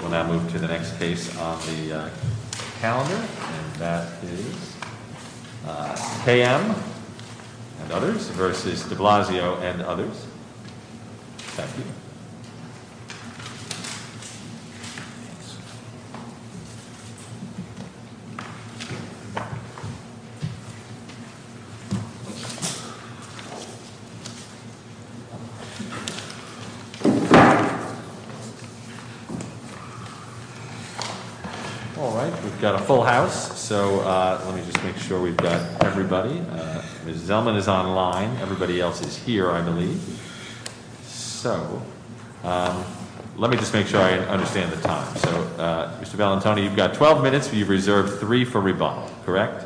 We'll now move to the next case on the calendar, and that is K.M. v. de Blasio v. others. Thank you. All right. We've got a full house, so let me just make sure we've got everybody. Ms. Zellman is online. Everybody else is here, I believe. So let me just make sure I understand the time. So, Mr. Valentone, you've got 12 minutes. You've reserved three for rebuttal, correct?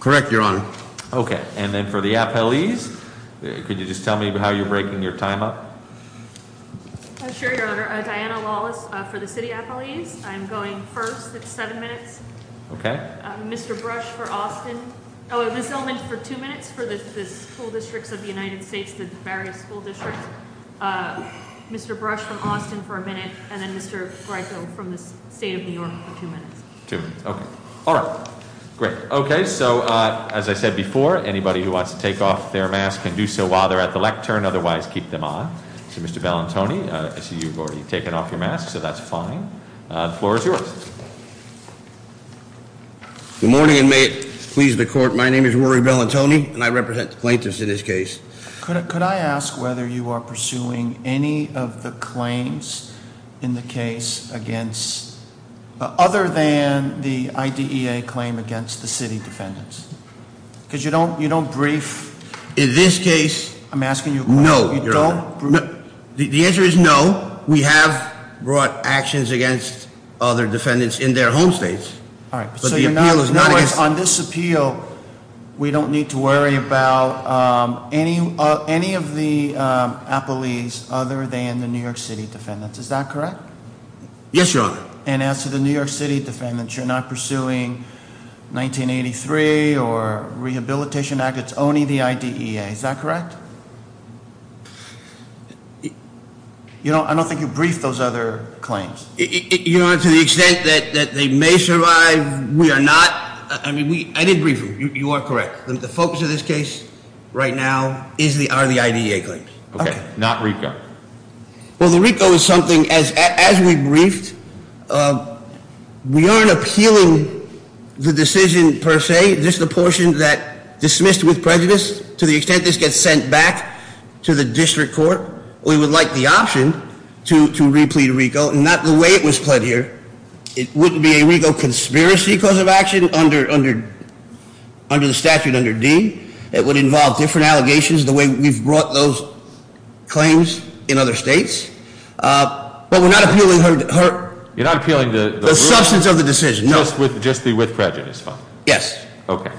Correct, Your Honor. Okay. And then for the appellees, could you just tell me how you're breaking your time up? Sure, Your Honor. Diana Lawless for the city appellees. I'm going first. It's seven minutes. Okay. Mr. Brush for Austin. Ms. Zellman for two minutes for the school districts of the United States, the various school districts. Mr. Brush from Austin for a minute. And then Mr. Greico from the state of New York for two minutes. Two minutes. Okay. All right. Great. Okay. So, as I said before, anybody who wants to take off their mask can do so while they're at the lectern. Otherwise, keep them on. So, Mr. Valentone, I see you've already taken off your mask, so that's fine. The floor is yours. Good morning, and may it please the court. My name is Rory Valentone, and I represent the plaintiffs in this case. Could I ask whether you are pursuing any of the claims in the case against, other than the IDEA claim against the city defendants? Because you don't brief. In this case- I'm asking you a question. No, Your Honor. You don't brief? The answer is no. We have brought actions against other defendants in their home states. All right. So, in other words, on this appeal, we don't need to worry about any of the appellees other than the New York City defendants. Is that correct? Yes, Your Honor. And as to the New York City defendants, you're not pursuing 1983 or rehabilitation act. It's only the IDEA. Is that correct? I don't think you briefed those other claims. Your Honor, to the extent that they may survive, we are not. I mean, I did brief them. You are correct. The focus of this case right now are the IDEA claims. Okay. Not RICO. Well, the RICO is something, as we briefed, we aren't appealing the decision per se. This is the portion that dismissed with prejudice. To the extent this gets sent back to the district court, we would like the option to replete RICO, not the way it was pled here. It wouldn't be a RICO conspiracy cause of action under the statute under D. It would involve different allegations the way we've brought those claims in other states. But we're not appealing her- You're not appealing the- The substance of the decision, no. Just the with prejudice part? Yes. Okay.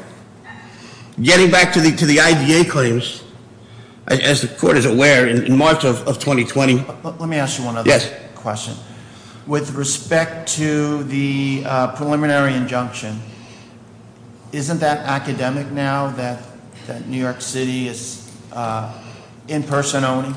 Getting back to the IDEA claims, as the court is aware, in March of 2020- Let me ask you one other question. Yes. With respect to the preliminary injunction, isn't that academic now that New York City is in person only?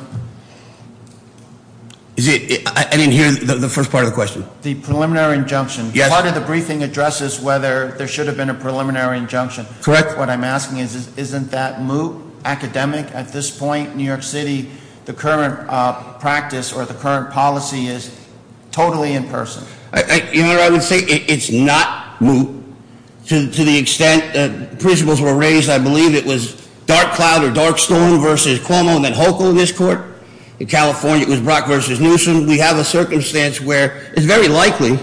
I didn't hear the first part of the question. The preliminary injunction. Yes. Part of the briefing addresses whether there should have been a preliminary injunction. What I'm asking is, isn't that moot, academic? At this point, New York City, the current practice or the current policy is totally in person. You know what I would say? It's not moot to the extent that principles were raised. I believe it was Dark Cloud or Dark Storm versus Cuomo and then Hochul in this court. In California, it was Brock versus Newsom. We have a circumstance where it's very likely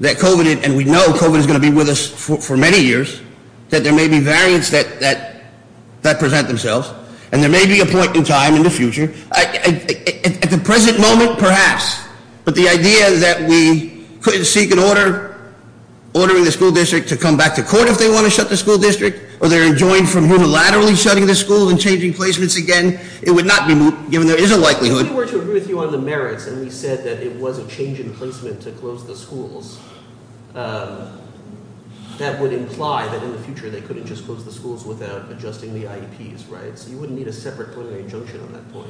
that COVID, and we know COVID is going to be with us for many years, that there may be variants that present themselves, and there may be a point in time in the future. At the present moment, perhaps, but the idea that we couldn't seek an order, ordering the school district to come back to court if they want to shut the school district, or they're enjoined from unilaterally shutting the school and changing placements again, it would not be moot, given there is a likelihood. If we were to agree with you on the merits, and we said that it was a change in placement to close the schools, that would imply that in the future they couldn't just close the schools without adjusting the IEPs, right? So you wouldn't need a separate preliminary injunction on that point.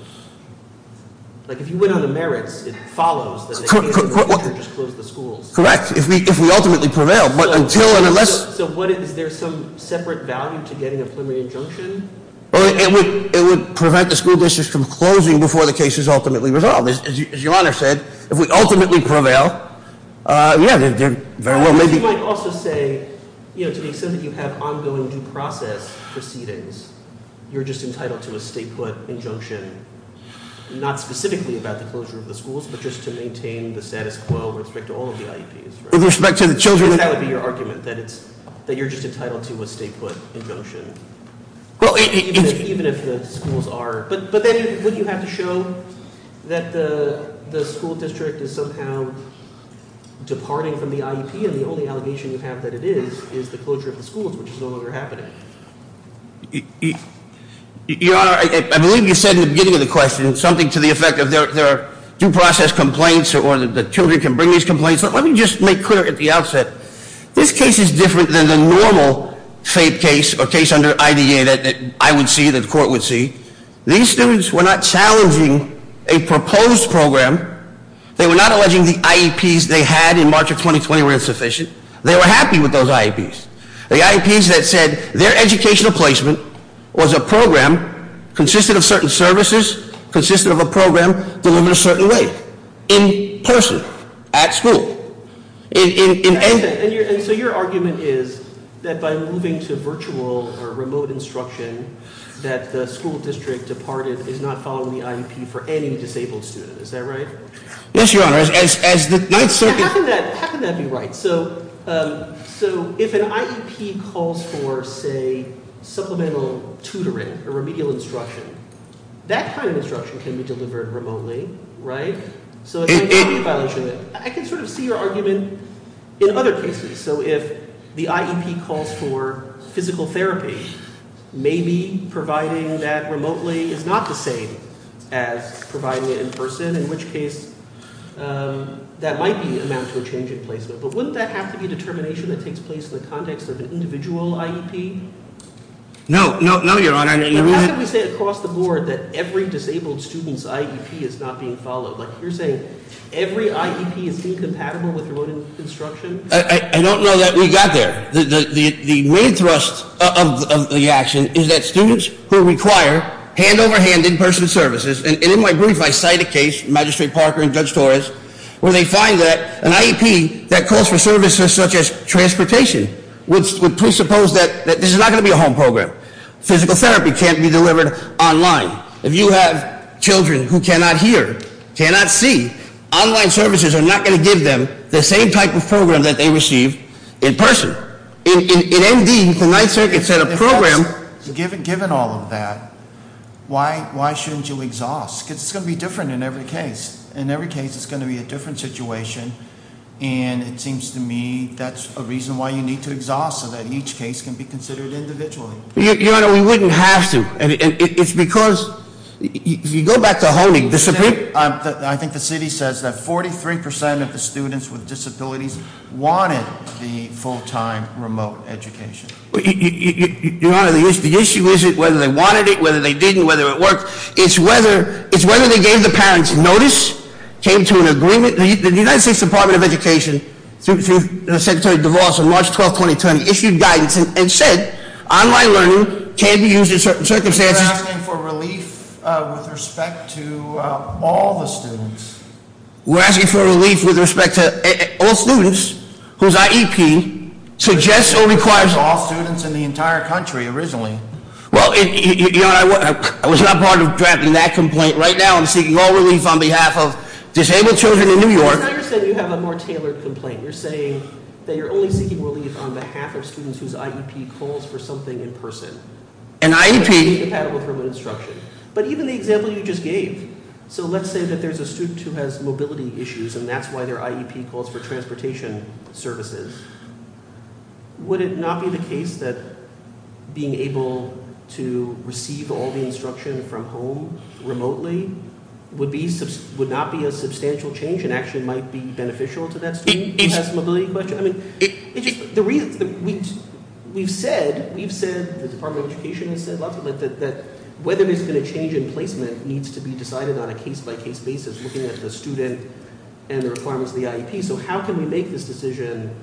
If you went on the merits, it follows that they could just close the schools. Correct, if we ultimately prevail. So is there some separate value to getting a preliminary injunction? It would prevent the school district from closing before the case is ultimately resolved. As your honor said, if we ultimately prevail, yeah, they're very well, maybe- You might also say, to the extent that you have ongoing due process proceedings, you're just entitled to a state put injunction, not specifically about the closure of the schools, but just to maintain the status quo with respect to all of the IEPs, right? With respect to the children- Because that would be your argument, that you're just entitled to a state put injunction. Even if the schools are, but then wouldn't you have to show that the school district is somehow departing from the IEP, and the only allegation you have that it is, is the closure of the schools, which is no longer happening. Your honor, I believe you said in the beginning of the question, something to the effect of their due process complaints, or that the children can bring these complaints, but let me just make clear at the outset. This case is different than the normal FAPE case, or case under IDA that I would see, that the court would see. These students were not challenging a proposed program. They were not alleging the IEPs they had in March of 2020 were insufficient. They were happy with those IEPs. The IEPs that said their educational placement was a program consisted of certain services, consisted of a program delivered a certain way, in person, at school. And so your argument is that by moving to virtual or remote instruction that the school district departed is not following the IEP for any disabled student. Is that right? Yes, your honor. As the Ninth Circuit- How can that be right? So if an IEP calls for, say, supplemental tutoring or remedial instruction, that kind of instruction can be delivered remotely, right? So I can sort of see your argument in other cases. So if the IEP calls for physical therapy, maybe providing that remotely is not the same as providing it in person, in which case that might amount to a change in placement. But wouldn't that have to be a determination that takes place in the context of an individual IEP? No, no, no, your honor. Your honor- How can we say across the board that every disabled student's IEP is not being followed? You're saying every IEP is incompatible with remote instruction? I don't know that we got there. The main thrust of the action is that students who require hand-over-hand in-person services, and in my brief I cite a case, Magistrate Parker and Judge Torres, where they find that an IEP that calls for services such as transportation would presuppose that this is not going to be a home program. Physical therapy can't be delivered online. If you have children who cannot hear, cannot see, online services are not going to give them the same type of program that they receive in person. In ND, the Ninth Circuit said a program- Given all of that, why shouldn't you exhaust? Because it's going to be different in every case. In every case, it's going to be a different situation, and it seems to me that's a reason why you need to exhaust so that each case can be considered individually. Your Honor, we wouldn't have to. It's because, if you go back to Honig, the Supreme- I think the city says that 43% of the students with disabilities wanted the full-time remote education. Your Honor, the issue isn't whether they wanted it, whether they didn't, whether it worked. It's whether they gave the parents notice, came to an agreement. The United States Department of Education, through Secretary DeVos on March 12, 2020, issued guidance and said online learning can be used in certain circumstances- We're asking for relief with respect to all the students. We're asking for relief with respect to all students, whose IEP suggests or requires- All students in the entire country, originally. Well, Your Honor, I was not part of drafting that complaint. Right now, I'm seeking all relief on behalf of disabled children in New York. Your Honor said you have a more tailored complaint. You're saying that you're only seeking relief on behalf of students whose IEP calls for something in person. An IEP- But even the example you just gave. So, let's say that there's a student who has mobility issues, and that's why their IEP calls for transportation services. Would it not be the case that being able to receive all the instruction from home remotely would not be a substantial change, and actually might be beneficial to that student who has mobility questions? We've said, the Department of Education has said, whether there's going to be a change in placement needs to be decided on a case-by-case basis, looking at the student and the requirements of the IEP. So, how can we make this decision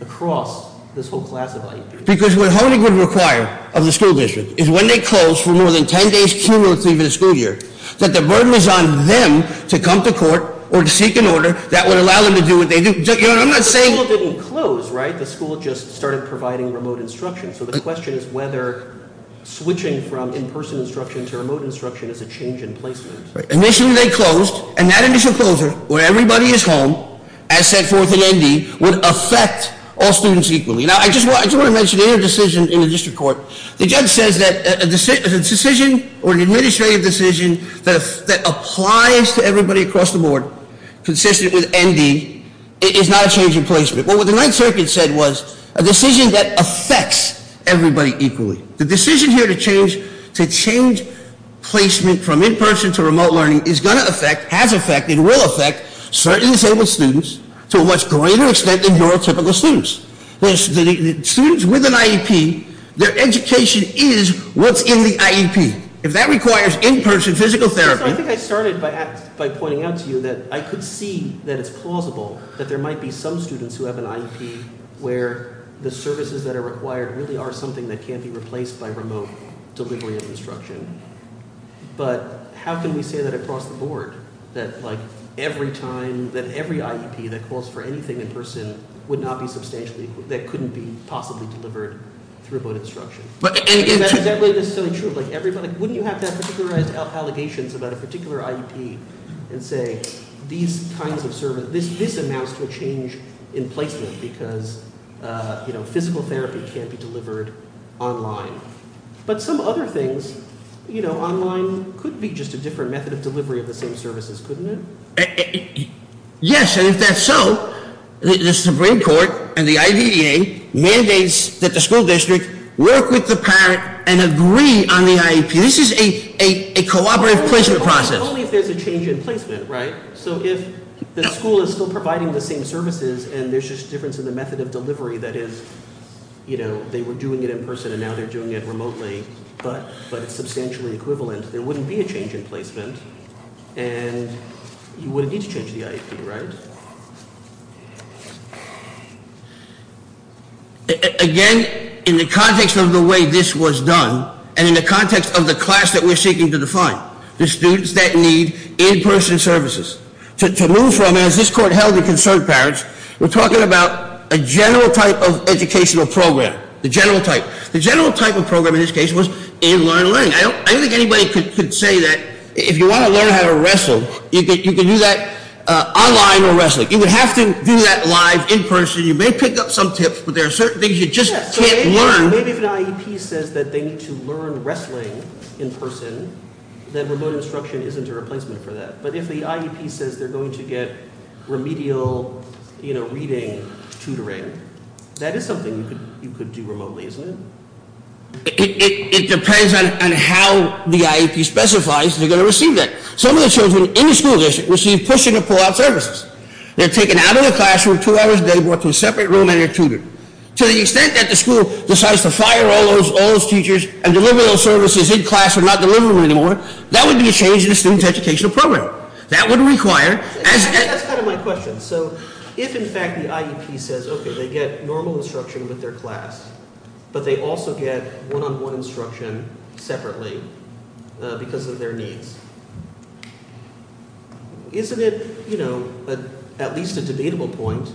across this whole class of IEPs? Because what Honing would require of the school district is when they close for more than ten days cumulatively for the school year, that the burden is on them to come to court or to seek an order that would allow them to do what they do. Your Honor, I'm not saying- The school didn't close, right? The school just started providing remote instruction. So, the question is whether switching from in-person instruction to remote instruction is a change in placement. Initially, they closed. And that initial closure, where everybody is home, as set forth in ND, would affect all students equally. Now, I just want to mention a decision in the district court. The judge says that a decision, or an administrative decision, that applies to everybody across the board, consistent with ND, is not a change in placement. Well, what the Ninth Circuit said was a decision that affects everybody equally. The decision here to change placement from in-person to remote learning is going to affect, has affected, will affect certain disabled students to a much greater extent than your typical students. The students with an IEP, their education is what's in the IEP. If that requires in-person physical therapy- I think I started by pointing out to you that I could see that it's plausible that there might be some students who have an IEP where the services that are required really are something that can't be replaced by remote delivery of instruction. But, how can we say that across the board? That, like, every time, that every IEP that calls for anything in person would not be substantially, that couldn't be possibly delivered through remote instruction? And is that really necessarily true? Like, wouldn't you have to have particularized allegations about a particular IEP and say, these kinds of services, this amounts to a change in placement because physical therapy can't be delivered online. But some other things, you know, online could be just a different method of delivery of the same services, couldn't it? Yes, and if that's so, the Supreme Court and the IDEA mandates that the school district work with the parent and agree on the IEP. This is a cooperative placement process. But only if there's a change in placement, right? So if the school is still providing the same services and there's just a difference in the method of delivery, that is, you know, they were doing it in person and now they're doing it remotely, but it's substantially equivalent, there wouldn't be a change in placement and you wouldn't need to change the IEP, right? Again, in the context of the way this was done and in the context of the class that we're seeking to define, the students that need in-person services. To move from, as this court held in concerned parents, we're talking about a general type of educational program, the general type. The general type of program in this case was in-line learning. I don't think anybody could say that if you want to learn how to wrestle, you can do that online or wrestling. You would have to do that live in person. You may pick up some tips, but there are certain things you just can't learn. And maybe if an IEP says that they need to learn wrestling in person, then remote instruction isn't a replacement for that. But if the IEP says they're going to get remedial reading tutoring, that is something you could do remotely, isn't it? It depends on how the IEP specifies they're going to receive that. Some of the children in the school district receive push in and pull out services. They're taken out of the classroom, two hours a day brought to a separate room and they're tutored. To the extent that the school decides to fire all those teachers and deliver those services in class and not deliver them anymore, that would be a change in the student's educational program. That would require- That's kind of my question. So if in fact the IEP says, okay, they get normal instruction with their class, but they also get one-on-one instruction separately because of their needs, isn't it at least a debatable point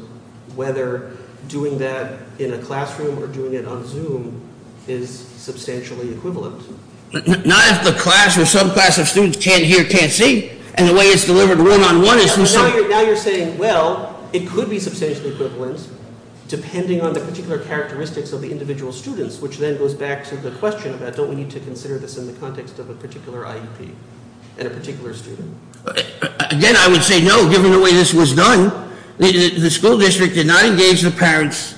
whether doing that in a classroom or doing it on Zoom is substantially equivalent? Not if the class or subclass of students can't hear, can't see, and the way it's delivered one-on-one is- But now you're saying, well, it could be substantially equivalent depending on the particular characteristics of the individual students, which then goes back to the question about don't we need to consider this in the context of a particular IEP and a particular student? Again, I would say no, given the way this was done. The school district did not engage the parents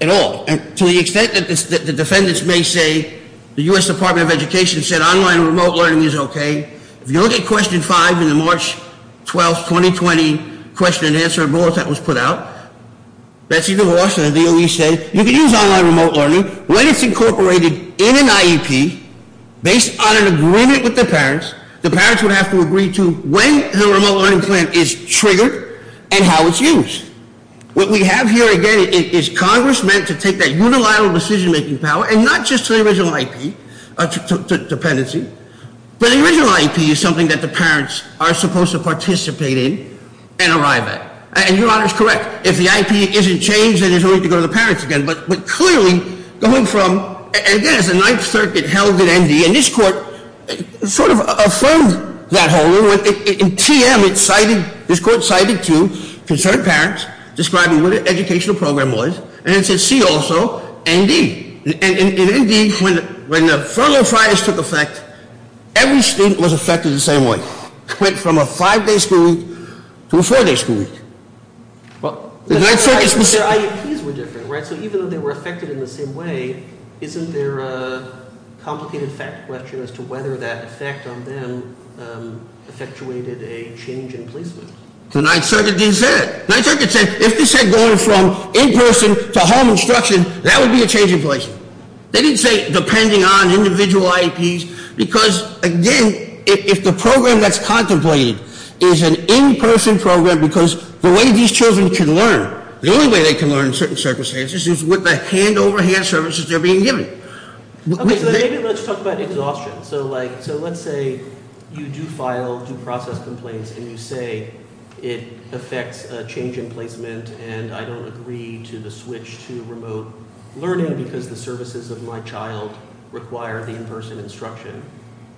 at all. To the extent that the defendants may say, the US Department of Education said online remote learning is okay. If you look at question five in the March 12th, 2020 question and answer bulletin that was put out, Betsy DeVos and the DOE said, you can use online remote learning when it's incorporated in an IEP based on an agreement with the parents. The parents would have to agree to when the remote learning plan is triggered and how it's used. What we have here, again, is Congress meant to take that unilateral decision-making power, and not just to the original IEP dependency. But the original IEP is something that the parents are supposed to participate in and arrive at. And your honor is correct. If the IEP isn't changed, then it's only to go to the parents again. But clearly, going from, and again, it's a ninth circuit held at ND. And this court sort of affirmed that whole rule. In TM, it cited, this court cited two concerned parents describing what an educational program was. And it said, see also ND. And in ND, when the Furlough Friars took effect, every student was affected the same way. Went from a five-day school week to a four-day school week. The ninth circuit specifically- But their IEPs were different, right? So even though they were affected in the same way, isn't there a complicated fact question as to whether that effect on them effectuated a change in placement? The ninth circuit didn't say that. The ninth circuit said, if they said going from in-person to home instruction, that would be a change in placement. They didn't say depending on individual IEPs. Because again, if the program that's contemplated is an in-person program, because the way these children can learn. The only way they can learn in certain circumstances is with the hand-over-hand services they're being given. Okay, so maybe let's talk about exhaustion. So let's say you do file due process complaints and you say it affects a change in placement. And I don't agree to the switch to remote learning because the services of my child require the in-person instruction.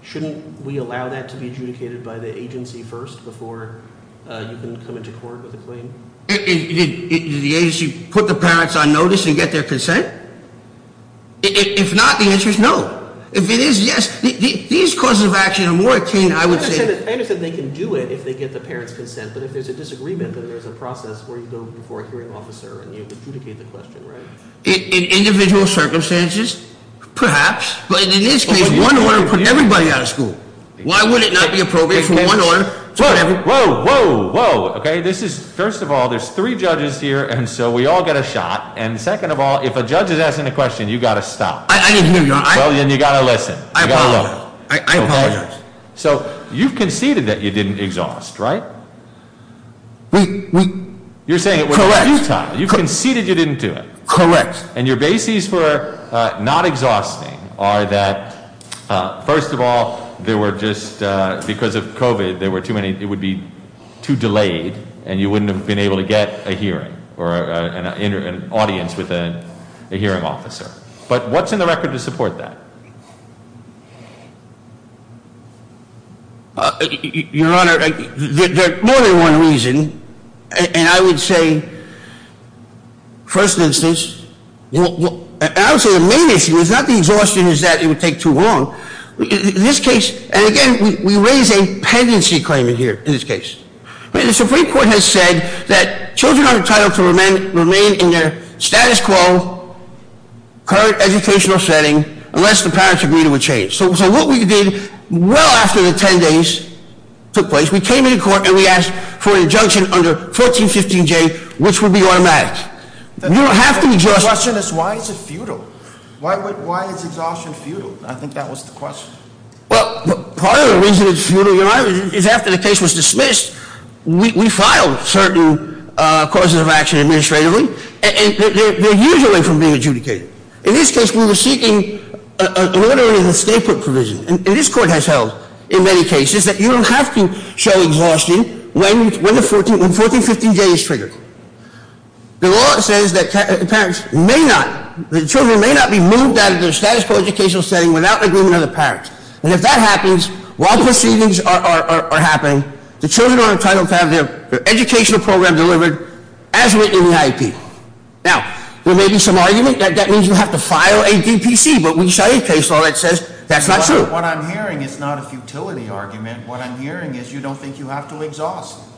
Shouldn't we allow that to be adjudicated by the agency first before you can come into court with a claim? Did the agency put the parents on notice and get their consent? If not, the answer is no. If it is, yes. These causes of action are more akin, I would say- I understand they can do it if they get the parents' consent. But if there's a disagreement, then there's a process where you go before a hearing officer and you adjudicate the question, right? In individual circumstances, perhaps. But in this case, one order would put everybody out of school. Why would it not be appropriate for one order- Whoa, whoa, whoa. Okay, this is, first of all, there's three judges here, and so we all get a shot. And second of all, if a judge is asking a question, you've got to stop. I didn't hear you. Well, then you've got to listen. I apologize. So, you've conceded that you didn't exhaust, right? We, we- You're saying it was futile. Correct. You've conceded you didn't do it. Correct. And your bases for not exhausting are that, first of all, there were just, because of COVID, there were too many, it would be too delayed, and you wouldn't have been able to get a hearing or an audience with a hearing officer. But what's in the record to support that? Your Honor, there's more than one reason. And I would say, first instance, I would say the main issue is not the exhaustion is that it would take too long. In this case, and again, we raise a pendency claim in here, in this case. The Supreme Court has said that children are entitled to remain in their status quo, current educational setting, unless the parents agree to a change. So what we did, well after the ten days took place, we came into court and we asked for an injunction under 1415J, which would be automatic. You don't have to exhaust- The question is, why is it futile? Why is exhaustion futile? I think that was the question. Well, part of the reason it's futile, Your Honor, is after the case was dismissed, we filed certain causes of action administratively, and they're usually from being adjudicated. In this case, we were seeking an order in the statehood provision. And this court has held, in many cases, that you don't have to show exhaustion when 1415J is triggered. The law says that the children may not be moved out of their status quo educational setting without agreement of the parents. And if that happens, while proceedings are happening, the children are entitled to have their educational program delivered as written in the IEP. Now, there may be some argument that that means you have to file a DPC, but we saw a case law that says that's not true. What I'm hearing is not a futility argument. What I'm hearing is you don't think you have to exhaust.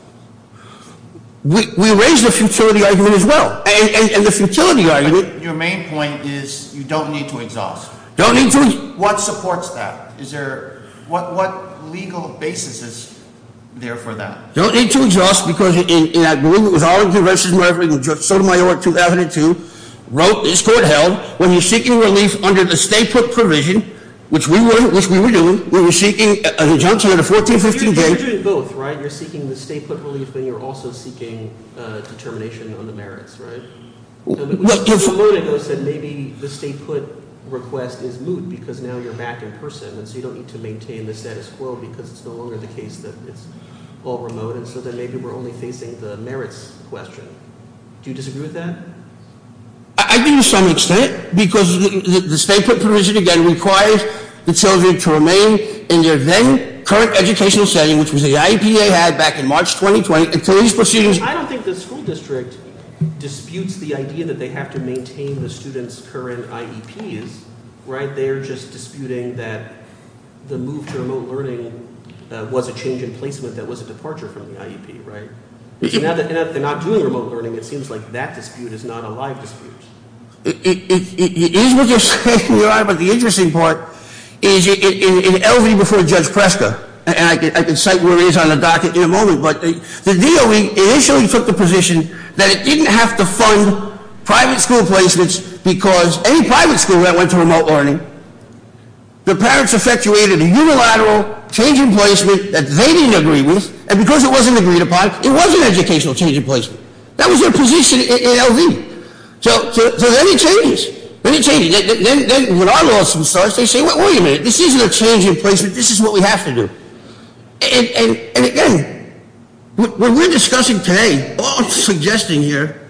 We raised a futility argument as well. And the futility argument- Your main point is you don't need to exhaust. Don't need to- What supports that? Is there, what legal basis is there for that? Don't need to exhaust, because in agreement with all of the rest of the members, Judge Sotomayor, 2002, wrote, this court held, when you're seeking relief under the statehood provision, which we were doing, we were seeking an adjunction under 1415J- You're doing both, right? You're seeking the statehood relief, but you're also seeking determination on the merits, right? Well, Judge- A moment ago, you said maybe the statehood request is moot, because now you're back in person, and so you don't need to maintain the status quo, because it's no longer the case that it's all remote, and so then maybe we're only facing the merits question. Do you disagree with that? It requires the children to remain in their then current educational setting, which was the IEP they had back in March 2020, until these proceedings- I don't think the school district disputes the idea that they have to maintain the students' current IEPs, right? They're just disputing that the move to remote learning was a change in placement that was a departure from the IEP, right? So now that they're not doing remote learning, it seems like that dispute is not a live dispute. It is what you're saying, Your Honor, but the interesting part is in L.V. before Judge Preska, and I can cite where it is on the docket in a moment, but the DOE initially took the position that it didn't have to fund private school placements because any private school that went to remote learning, the parents effectuated a unilateral change in placement that they didn't agree with, and because it wasn't agreed upon, it was an educational change in placement. That was their position in L.V. So then it changes. Then it changes. Then when our lawsuit starts, they say, wait a minute, this isn't a change in placement. This is what we have to do. And again, what we're discussing today, what I'm suggesting here,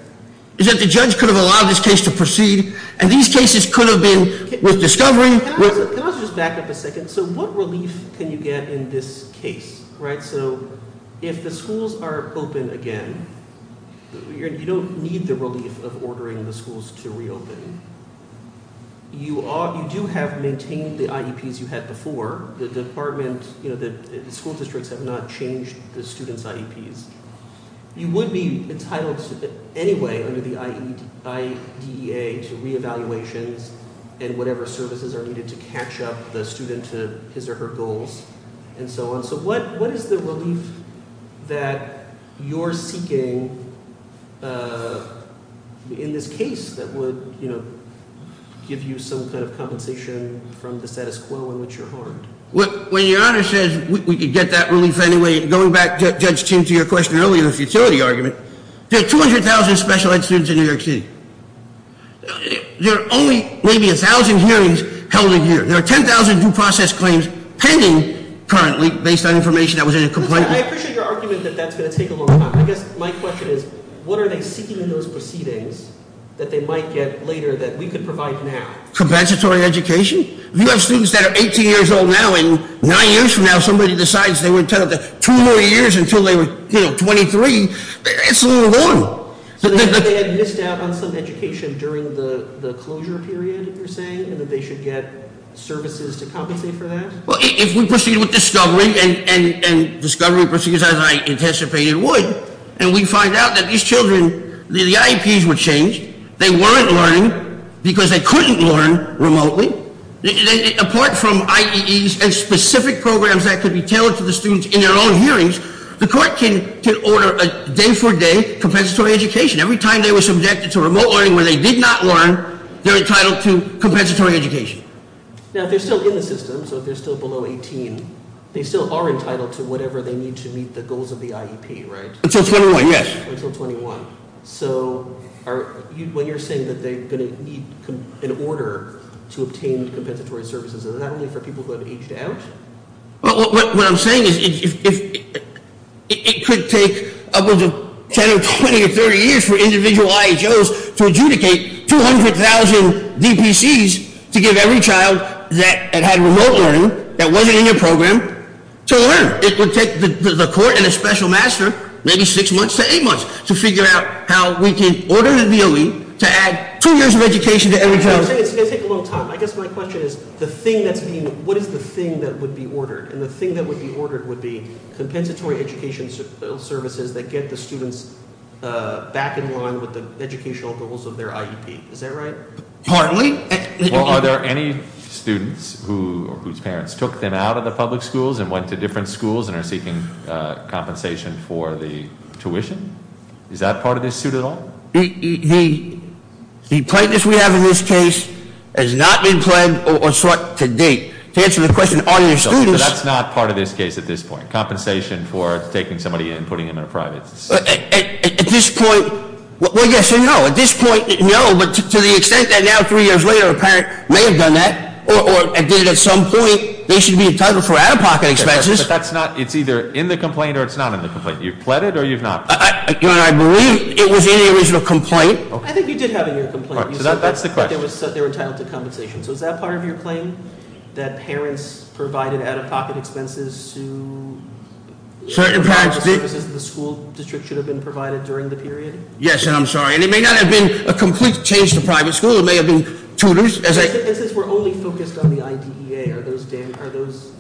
is that the judge could have allowed this case to proceed, and these cases could have been with discovery- Can I just back up a second? So what relief can you get in this case, right? So if the schools are open again, you don't need the relief of ordering the schools to reopen. You do have maintained the IEPs you had before. The school districts have not changed the students' IEPs. You would be entitled anyway under the IDEA to re-evaluations and whatever services are needed to catch up the student to his or her goals and so on. So what is the relief that you're seeking in this case that would give you some kind of compensation from the status quo in which you're harmed? When your Honor says we could get that relief anyway, going back, Judge, to your question earlier, the futility argument, there are 200,000 special ed students in New York City. There are only maybe 1,000 hearings held a year. There are 10,000 due process claims pending currently based on information that was in a complaint- I appreciate your argument that that's going to take a long time. I guess my question is, what are they seeking in those proceedings that they might get later that we could provide now? Compensatory education? You have students that are 18 years old now, and nine years from now, somebody decides they were entitled to two more years until they were 23. It's a little long. So they had missed out on some education during the closure period, you're saying, and that they should get services to compensate for that? Well, if we proceed with discovery, and discovery proceeds as I anticipated would, and we find out that these children, the IEPs were changed. They weren't learning because they couldn't learn remotely. Apart from IEEs and specific programs that could be tailored to the students in their own hearings, the court can order a day-for-day compensatory education. Every time they were subjected to remote learning where they did not learn, they're entitled to compensatory education. Now, if they're still in the system, so if they're still below 18, they still are entitled to whatever they need to meet the goals of the IEP, right? Until 21, yes. Until 21. So when you're saying that they're going to need an order to obtain compensatory services, is that only for people who have aged out? What I'm saying is it could take up to 10 or 20 or 30 years for individual IHOs to adjudicate 200,000 DPCs to give every child that had remote learning, that wasn't in your program, to learn. It would take the court and a special master, maybe six months to eight months, to figure out how we can order the OE to add two years of education to every child. It's going to take a long time. I guess my question is, what is the thing that would be ordered? And the thing that would be ordered would be compensatory education services that get the students back in line with the educational goals of their IEP, is that right? Partly. Well, are there any students whose parents took them out of the public schools and went to different schools and are seeking compensation for the tuition? Is that part of this suit at all? The plaintiff we have in this case has not been plead or sought to date. To answer the question, are there students- That's not part of this case at this point. Compensation for taking somebody in and putting them in a private school. At this point, well, yes and no. At this point, no, but to the extent that now three years later a parent may have done that, or did it at some point, they should be entitled for out-of-pocket expenses. But that's not, it's either in the complaint or it's not in the complaint. You've pleaded or you've not pleaded? I believe it was in the original complaint. I think you did have it in your complaint. That's the question. They were entitled to compensation. So is that part of your claim? That parents provided out-of-pocket expenses to- Certain parents- The school district should have been provided during the period? Yes, and I'm sorry. And it may not have been a complete change to private school. It may have been tutors, as I- It says we're only focused on the IDEA. Are those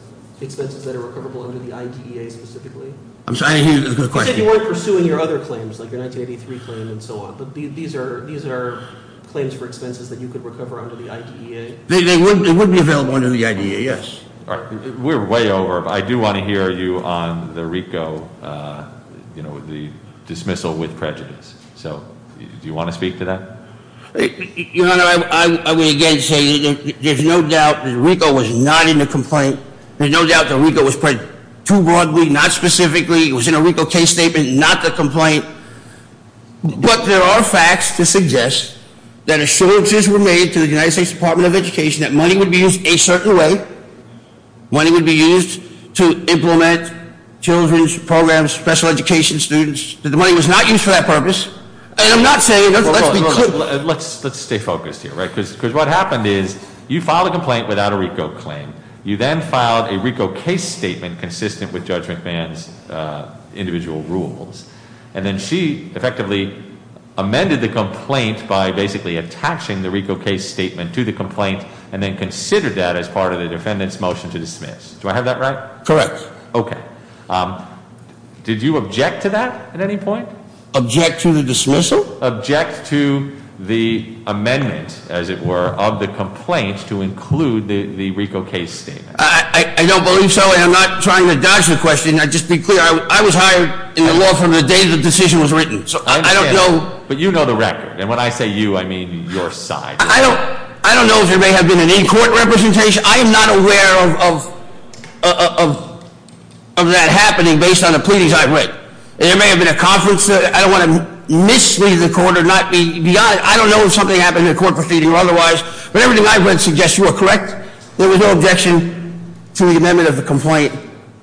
expenses that are recoverable under the IDEA specifically? I'm sorry, I didn't hear the question. You said you weren't pursuing your other claims, like your 1983 claim and so on. But these are claims for expenses that you could recover under the IDEA? They would be available under the IDEA, yes. All right, we're way over. I do want to hear you on the RICO, the dismissal with prejudice. Do you want to speak to that? Your Honor, I would again say there's no doubt that RICO was not in the complaint. There's no doubt that RICO was put too broadly, not specifically. It was in a RICO case statement, not the complaint. But there are facts to suggest that assurances were made to the United States Department of Education that money would be used a certain way. Money would be used to implement children's programs, special education students. The money was not used for that purpose. And I'm not saying- Let's stay focused here, right? Because what happened is you filed a complaint without a RICO claim. You then filed a RICO case statement consistent with Judge McMahon's individual rules. And then she effectively amended the complaint by basically attaching the RICO case statement to the complaint and then considered that as part of the defendant's motion to dismiss. Do I have that right? Correct. Okay. Did you object to that at any point? Object to the dismissal? Object to the amendment, as it were, of the complaint to include the RICO case statement. I don't believe so. And I'm not trying to dodge the question. Just to be clear, I was hired in the law from the day the decision was written. So I don't know- But you know the record. And when I say you, I mean your side. I don't know if there may have been an in-court representation. I am not aware of that happening based on the pleadings I've read. There may have been a conference. I don't want to mislead the court or not be honest. I don't know if something happened in the court proceeding or otherwise. But everything I've read suggests you are correct. There was no objection to the amendment of the complaint.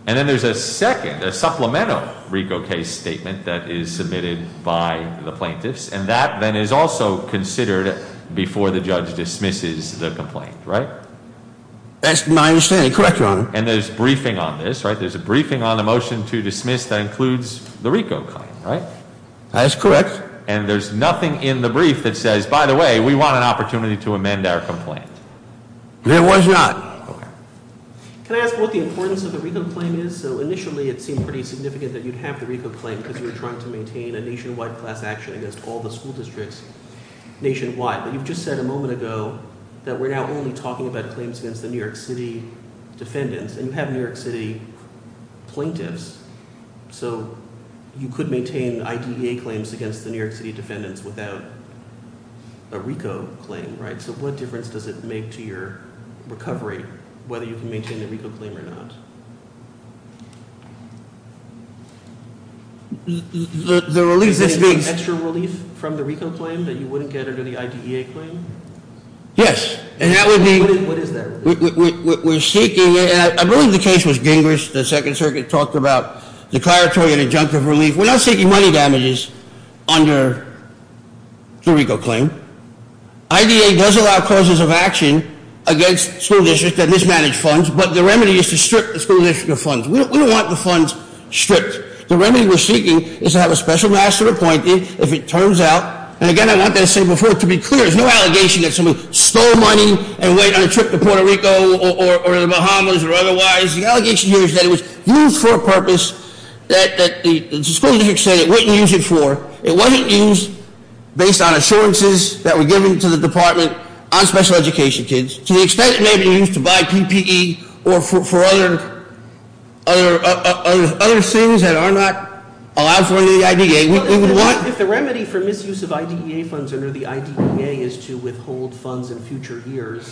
And then there's a second, a supplemental RICO case statement that is submitted by the plaintiffs. And that then is also considered before the judge dismisses the complaint, right? That's my understanding. Correct, Your Honor. And there's a briefing on this, right? There's a briefing on the motion to dismiss that includes the RICO claim, right? That's correct. And there's nothing in the brief that says, by the way, we want an opportunity to amend our complaint. There was not. Okay. Can I ask what the importance of the RICO claim is? So initially it seemed pretty significant that you'd have the RICO claim because you were trying to maintain a nationwide class action against all the school districts nationwide. But you've just said a moment ago that we're now only talking about claims against the New York City defendants. And you have New York City plaintiffs. So you could maintain IDEA claims against the New York City defendants without a RICO claim, right? So what difference does it make to your recovery whether you can maintain the RICO claim or not? Is there any extra relief from the RICO claim that you wouldn't get under the IDEA claim? Yes. And that would be- What is that? We're seeking, and I believe the case was Gingrich. The Second Circuit talked about declaratory and adjunctive relief. We're not seeking money damages under the RICO claim. IDEA does allow causes of action against school districts that mismanage funds. But the remedy is to strip the school district of funds. We don't want the funds stripped. The remedy we're seeking is to have a special master appointed, if it turns out. And again, I want to say before, to be clear, there's no allegation that someone stole money and went on a trip to Puerto Rico or the Bahamas or otherwise. The allegation here is that it was used for a purpose that the school district said it wouldn't use it for. It wasn't used based on assurances that were given to the department on special education kids. To the extent it may be used to buy PPE or for other things that are not allowed for the IDEA, we would want- If the remedy for misuse of IDEA funds under the IDEA is to withhold funds in future years,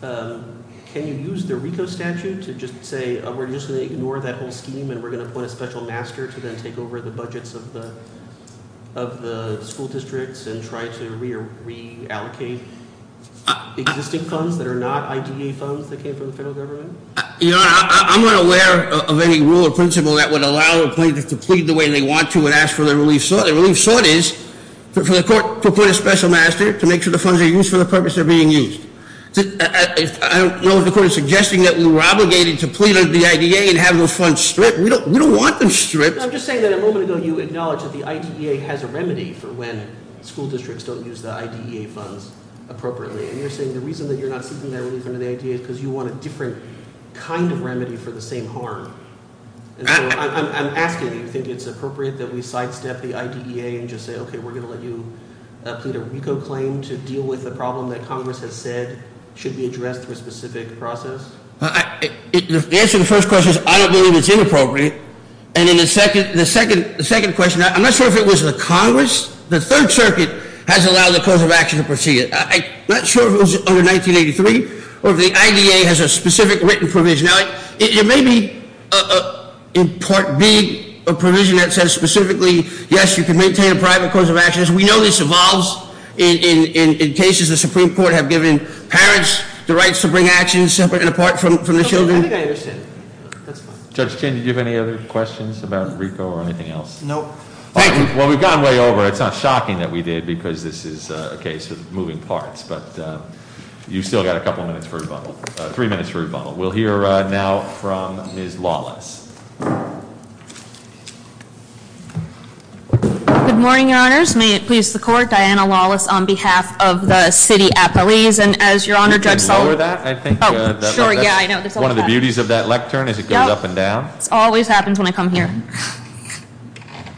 can you use the RICO statute to just say we're just going to ignore that whole scheme and we're going to appoint a special master to then take over the budgets of the school districts and try to reallocate existing funds that are not IDEA funds that came from the federal government? I'm not aware of any rule or principle that would allow a plaintiff to plead the way they want to and ask for the relief sought. The relief sought is for the court to appoint a special master to make sure the funds are used for the purpose of being used. I don't know if the court is suggesting that we were obligated to plead under the IDEA and have those funds stripped. We don't want them stripped. I'm just saying that a moment ago you acknowledged that the IDEA has a remedy for when school districts don't use the IDEA funds appropriately. And you're saying the reason that you're not seeking that relief under the IDEA is because you want a different kind of remedy for the same harm. And so I'm asking, do you think it's appropriate that we sidestep the IDEA and just say, okay, we're going to let you plead a RICO claim to deal with the problem that Congress has said should be addressed through a specific process? The answer to the first question is I don't believe it's inappropriate. And then the second question, I'm not sure if it was the Congress, the Third Circuit has allowed the cause of action to proceed. I'm not sure if it was under 1983 or if the IDEA has a specific written provision. Now, it may be in Part B, a provision that says specifically, yes, you can maintain a private cause of actions. We know this evolves in cases the Supreme Court have given parents the rights to bring actions separate and apart from the children. I think I understand. That's fine. Judge Chin, did you have any other questions about RICO or anything else? No. Thank you. Well, we've gone way over. It's not shocking that we did, because this is a case of moving parts. But you've still got a couple minutes for rebuttal, three minutes for rebuttal. We'll hear now from Ms. Lawless. Good morning, your honors. May it please the court. Diana Lawless on behalf of the city appellees. And as your honor, Judge Sullivan- You can lower that, I think. Oh, sure, yeah, I know. One of the beauties of that lectern is it goes up and down. This always happens when I come here.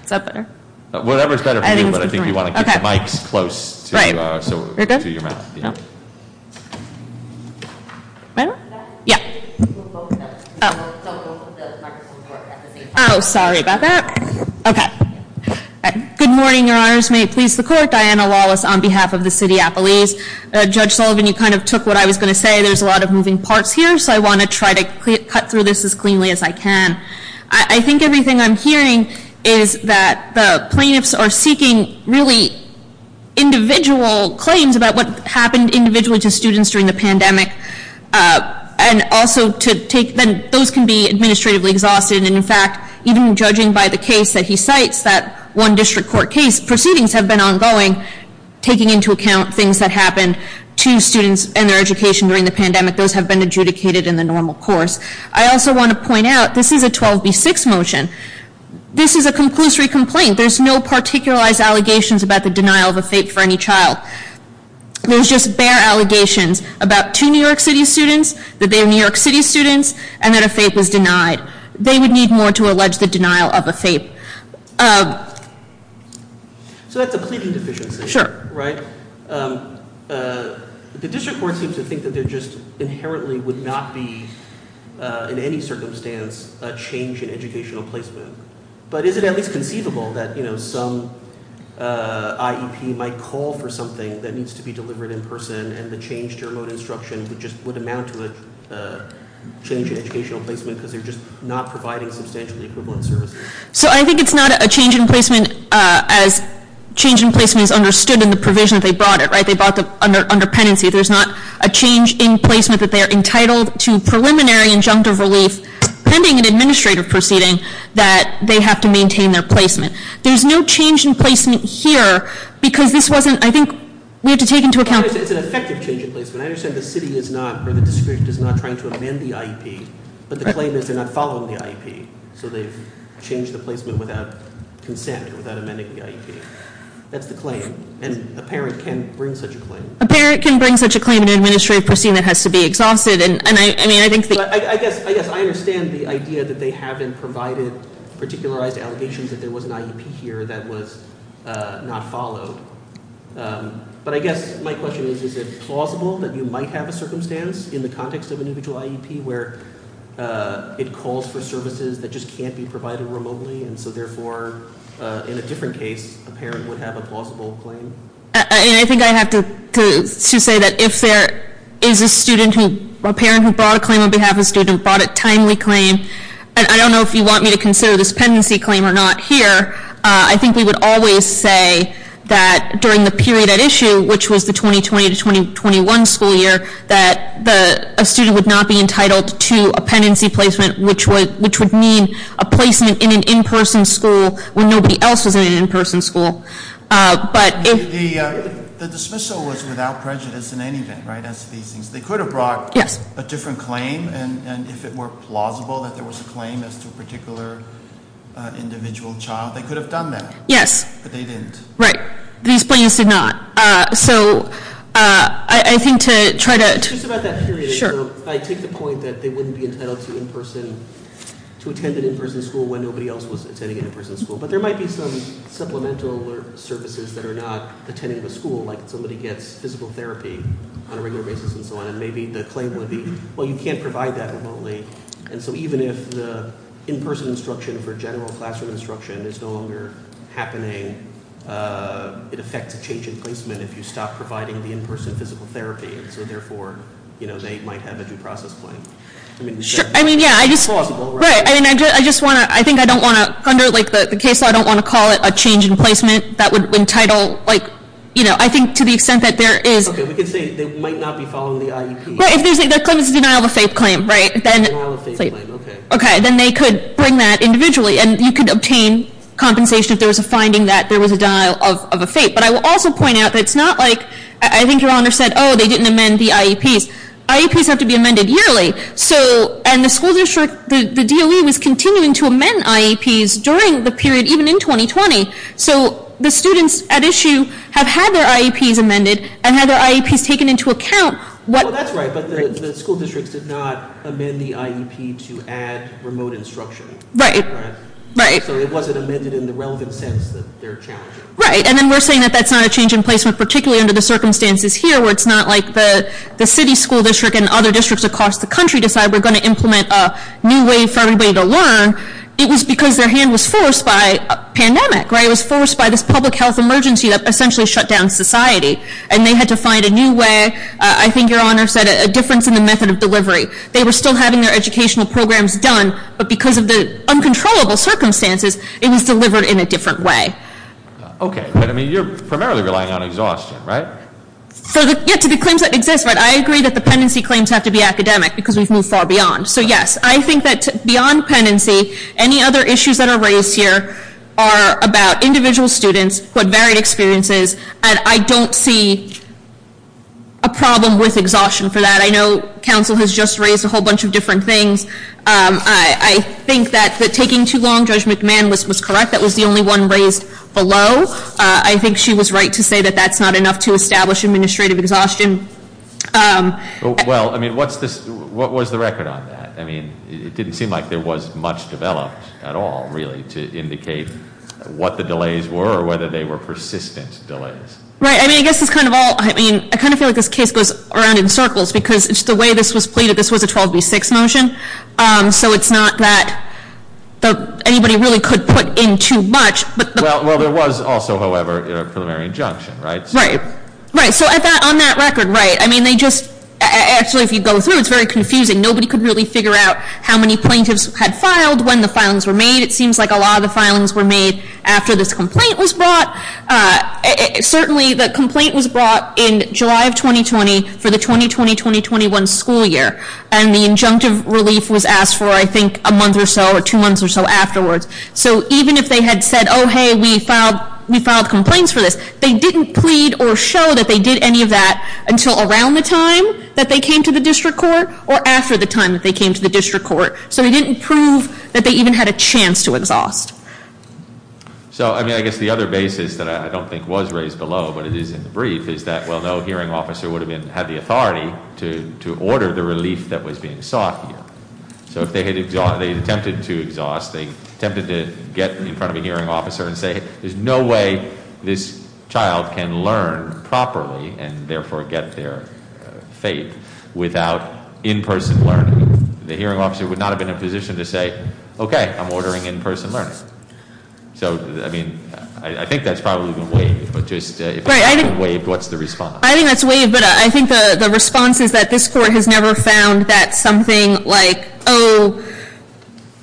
Is that better? Whatever's better for you, but I think you want to get the mics close to your mouth. Right. You're good? Yeah. Might I? Yeah. You can move both of them. So both of the microphones work at the same time. Oh, sorry about that. OK. Good morning, your honors. May it please the court. Diana Lawless on behalf of the city appellees. Judge Sullivan, you kind of took what I was going to say. There's a lot of moving parts here, so I want to try to cut through this as cleanly as I can. I think everything I'm hearing is that the plaintiffs are seeking really individual claims about what happened individually to students during the pandemic. And also, those can be administratively exhausted. And in fact, even judging by the case that he cites, that one district court case, proceedings have been ongoing, taking into account things that happened to students and their education during the pandemic. Those have been adjudicated in the normal course. I also want to point out, this is a 12B6 motion. This is a conclusory complaint. There's no particularized allegations about the denial of a fate for any child. There's just bare allegations about two New York City students, that they're New York City students, and that a fate was denied. They would need more to allege the denial of a fate. So that's a pleading deficiency. Sure. Right? The district court seems to think that there just inherently would not be, in any circumstance, a change in educational placement. But is it at least conceivable that some IEP might call for something that needs to be delivered in person, and the change to remote instruction just would amount to a change in educational placement because they're just not providing substantially equivalent services. So I think it's not a change in placement as change in placement is understood in the provision that they brought it, right? They brought the under pendency. There's not a change in placement that they're entitled to preliminary injunctive relief pending an administrative proceeding that they have to maintain their placement. There's no change in placement here because this wasn't, I think, we have to take into account- It's an effective change in placement. I understand the city is not, or the district is not trying to amend the IEP, but the claim is they're not following the IEP. So they've changed the placement without consent, without amending the IEP. That's the claim. And a parent can bring such a claim. A parent can bring such a claim in an administrative proceeding that has to be exhausted, and I mean, I think that- I guess I understand the idea that they haven't provided particularized allegations that there was an IEP here that was not followed. But I guess my question is, is it plausible that you might have a circumstance in the context of an individual IEP where it calls for services that just can't be provided remotely, and so therefore, in a different case, a parent would have a plausible claim? And I think I have to say that if there is a parent who brought a claim on behalf of a student, brought a timely claim, and I don't know if you want me to consider this pendency claim or not here. I think we would always say that during the period at issue, which was the 2020 to 2021 school year, that a student would not be entitled to a pendency placement, which would mean a placement in an in-person school when nobody else was in an in-person school. But if- The dismissal was without prejudice in any event, right, as to these things. They could have brought a different claim, and if it were plausible that there was a claim as to a particular individual child, they could have done that. Yes. But they didn't. Right. These claims did not. So I think to try to- It's just about that period. Sure. I take the point that they wouldn't be entitled to attend an in-person school when nobody else was attending an in-person school. But there might be some supplemental services that are not attending the school, like somebody gets physical therapy on a regular basis and so on. And maybe the claim would be, well, you can't provide that remotely. And so even if the in-person instruction for general classroom instruction is no longer happening, it affects a change in placement if you stop providing the in-person physical therapy. And so therefore, they might have a due process claim. I mean, yeah, I just want to, I think I don't want to, under the case law, I don't want to call it a change in placement that would entitle, I think to the extent that there is- Okay, we can say they might not be following the IEP. Well, if there's a denial of a FAPE claim, right, then- Denial of a FAPE claim, okay. Okay, then they could bring that individually and you could obtain compensation if there was a finding that there was a denial of a FAPE. But I will also point out that it's not like, I think your honor said, they didn't amend the IEPs. IEPs have to be amended yearly. So, and the school district, the DOE was continuing to amend IEPs during the period, even in 2020. So the students at issue have had their IEPs amended and had their IEPs taken into account. Well, that's right, but the school districts did not amend the IEP to add remote instruction. Right, right. So it wasn't amended in the relevant sense that they're challenging. Right, and then we're saying that that's not a change in placement, particularly under the circumstances here where it's not like the city school district and other districts across the country decide we're going to implement a new way for everybody to learn. It was because their hand was forced by pandemic, right? It was forced by this public health emergency that essentially shut down society. And they had to find a new way, I think your honor said, a difference in the method of delivery. They were still having their educational programs done, but because of the uncontrollable circumstances, it was delivered in a different way. Okay, but I mean, you're primarily relying on exhaustion, right? So, yeah, to the claims that exist, right, I agree that the pendency claims have to be academic, because we've moved far beyond. So yes, I think that beyond pendency, any other issues that are raised here are about individual students who have varied experiences. And I don't see a problem with exhaustion for that. I know council has just raised a whole bunch of different things. I think that taking too long, Judge McMahon was correct, that was the only one raised below. I think she was right to say that that's not enough to establish administrative exhaustion. Well, I mean, what was the record on that? I mean, it didn't seem like there was much developed at all, really, to indicate what the delays were or whether they were persistent delays. Right, I mean, I guess it's kind of all, I mean, I kind of feel like this case goes around in circles, because it's the way this was pleaded, this was a 12B6 motion. So it's not that anybody really could put in too much, but- Well, there was also, however, a preliminary injunction, right? Right, right, so on that record, right, I mean, they just, actually, if you go through, it's very confusing. Nobody could really figure out how many plaintiffs had filed, when the filings were made. It seems like a lot of the filings were made after this complaint was brought. Certainly, the complaint was brought in July of 2020 for the 2020-2021 school year. And the injunctive relief was asked for, I think, a month or so or two months or so afterwards. So even if they had said, hey, we filed complaints for this, they didn't plead or show that they did any of that until around the time that they came to the district court, or after the time that they came to the district court. So he didn't prove that they even had a chance to exhaust. So, I mean, I guess the other basis that I don't think was raised below, but it is in the brief, is that, well, no hearing officer would have had the authority to order the relief that was being sought here. So if they had attempted to exhaust, they attempted to get in front of a hearing officer and say, there's no way this child can learn properly and therefore get their faith without in-person learning. The hearing officer would not have been in a position to say, okay, I'm ordering in-person learning. So, I mean, I think that's probably been waived, but just if it's not been waived, what's the response? I think that's waived, but I think the response is that this court has never found that something like, oh,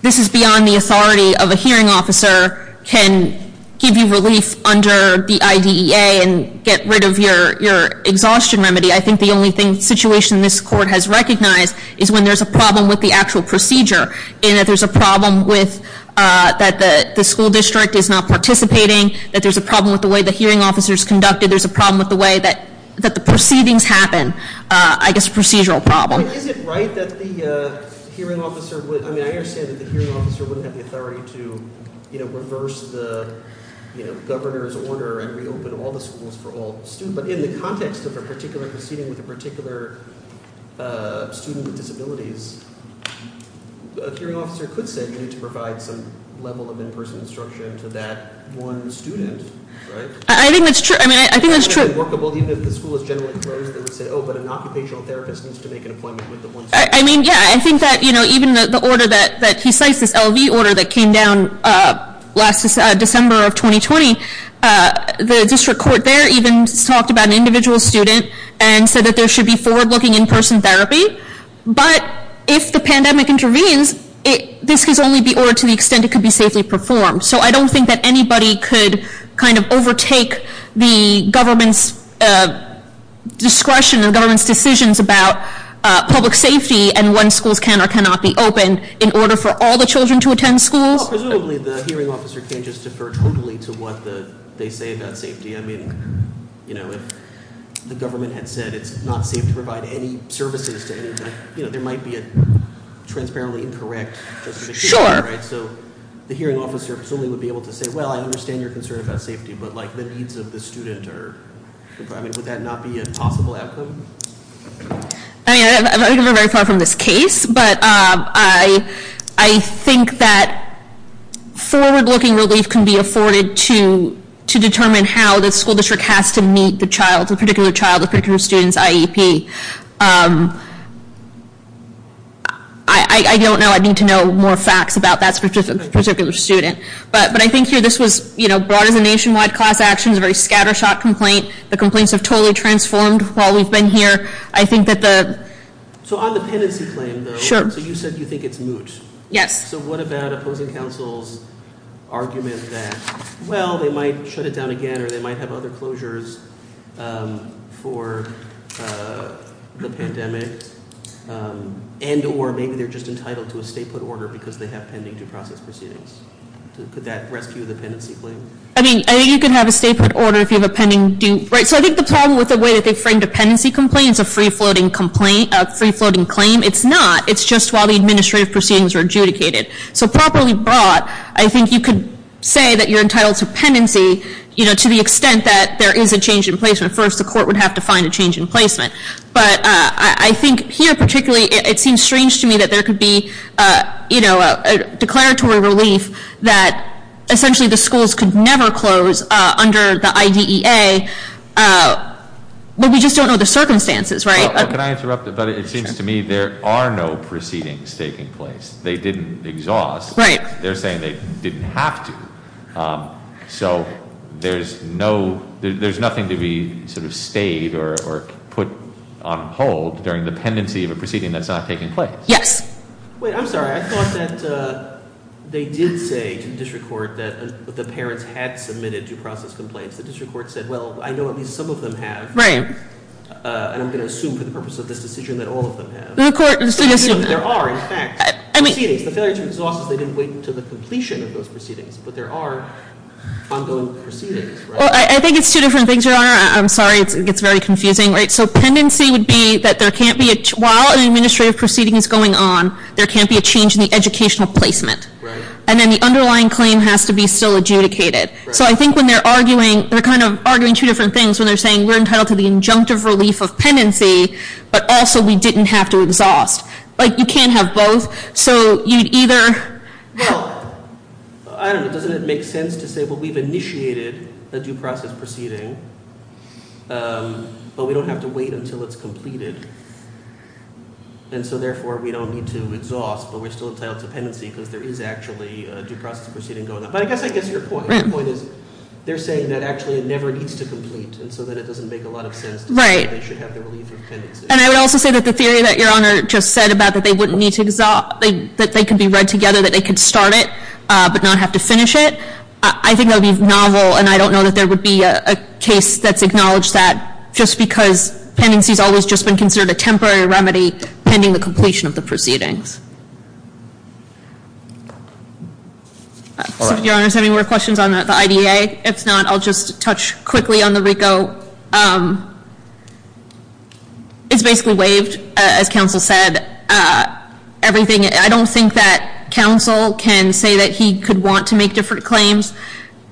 this is beyond the authority of a hearing officer can give you relief under the IDEA and get rid of your exhaustion remedy. I think the only situation this court has recognized is when there's a problem with the actual procedure. And that there's a problem with that the school district is not participating, that there's a problem with the way the hearing officer's conducted. There's a problem with the way that the proceedings happen, I guess a procedural problem. Is it right that the hearing officer would, I mean, I understand that the hearing officer wouldn't have the authority to reverse the governor's order and reopen all the schools for all students. But in the context of a particular proceeding with a particular student with disabilities, a hearing officer could say you need to provide some level of in-person instruction to that one student, right? I think that's true. I mean, I think that's true. Even if the school is generally closed, they would say, but an occupational therapist needs to make an appointment with the one student. I mean, yeah, I think that even the order that he cites, this LV order that came down last December of 2020. The district court there even talked about an individual student and said that there should be forward-looking in-person therapy. But if the pandemic intervenes, this could only be ordered to the extent it could be safely performed. So I don't think that anybody could kind of overtake the government's discretion and government's decisions about public safety and when schools can or cannot be opened in order for all the children to attend schools. Presumably, the hearing officer can just defer totally to what they say about safety. I mean, if the government had said it's not safe to provide any services to anybody, there might be a transparently incorrect justification, right? So the hearing officer presumably would be able to say, well, I understand your concern about safety, but the needs of the student are. I mean, would that not be a possible outcome? I mean, I think we're very far from this case, but I think that forward-looking relief can be afforded to determine how the school district has to meet the child, a particular child, a particular student's IEP. I don't know, I'd need to know more facts about that particular student. But I think here this was brought as a nationwide class action, a very scattershot complaint. The complaints have totally transformed while we've been here. I think that the- So on the pendency claim, though, so you said you think it's moot. Yes. So what about opposing counsel's argument that, well, they might shut it down again or they might have other closures for the pandemic, and or maybe they're just entitled to a state put order because they have pending due process proceedings. Could that rescue the pendency claim? I mean, you could have a state put order if you have a pending due, right? So I think the problem with the way that they frame dependency complaints, a free-floating complaint, a free-floating claim, it's not. It's just while the administrative proceedings are adjudicated. So properly brought, I think you could say that you're entitled to pendency to the extent that there is a change in placement. First, the court would have to find a change in placement. But I think here particularly, it seems strange to me that there could be a declaratory relief that essentially the schools could never close under the IDEA. But we just don't know the circumstances, right? Can I interrupt? But it seems to me there are no proceedings taking place. They didn't exhaust. Right. They're saying they didn't have to, so there's no, there's nothing to be sort of stayed or put on hold during the pendency of a proceeding that's not taking place. Yes. Wait, I'm sorry. I thought that they did say to the district court that the parents had submitted due process complaints. The district court said, well, I know at least some of them have. Right. And I'm going to assume for the purpose of this decision that all of them have. The court, I'm just going to assume that there are, in fact, proceedings. The failure to exhaust is they didn't wait until the completion of those proceedings. But there are ongoing proceedings, right? Well, I think it's two different things, Your Honor. I'm sorry, it gets very confusing, right? So, pendency would be that there can't be, while an administrative proceeding is going on, there can't be a change in the educational placement. Right. And then the underlying claim has to be still adjudicated. So, I think when they're arguing, they're kind of arguing two different things. When they're saying we're entitled to the injunctive relief of pendency, but also we didn't have to exhaust. Like, you can't have both, so you'd either. Well, I don't know, doesn't it make sense to say, well, we've initiated a due process proceeding, but we don't have to wait until it's completed. And so, therefore, we don't need to exhaust, but we're still entitled to pendency because there is actually a due process proceeding going on. But I guess, I guess your point, your point is they're saying that actually it never needs to complete, and so that it doesn't make a lot of sense to say that they should have the relief of pendency. And I would also say that the theory that Your Honor just said about that they wouldn't need to exhaust, that they could be read together, that they could start it, but not have to finish it. I think that would be novel, and I don't know that there would be a case that's acknowledged that just because pendency's always just been considered a temporary remedy pending the completion of the proceedings. Your Honor, does anyone have questions on the IDA? If not, I'll just touch quickly on the RICO. It's basically waived, as counsel said. Everything, I don't think that counsel can say that he could want to make different claims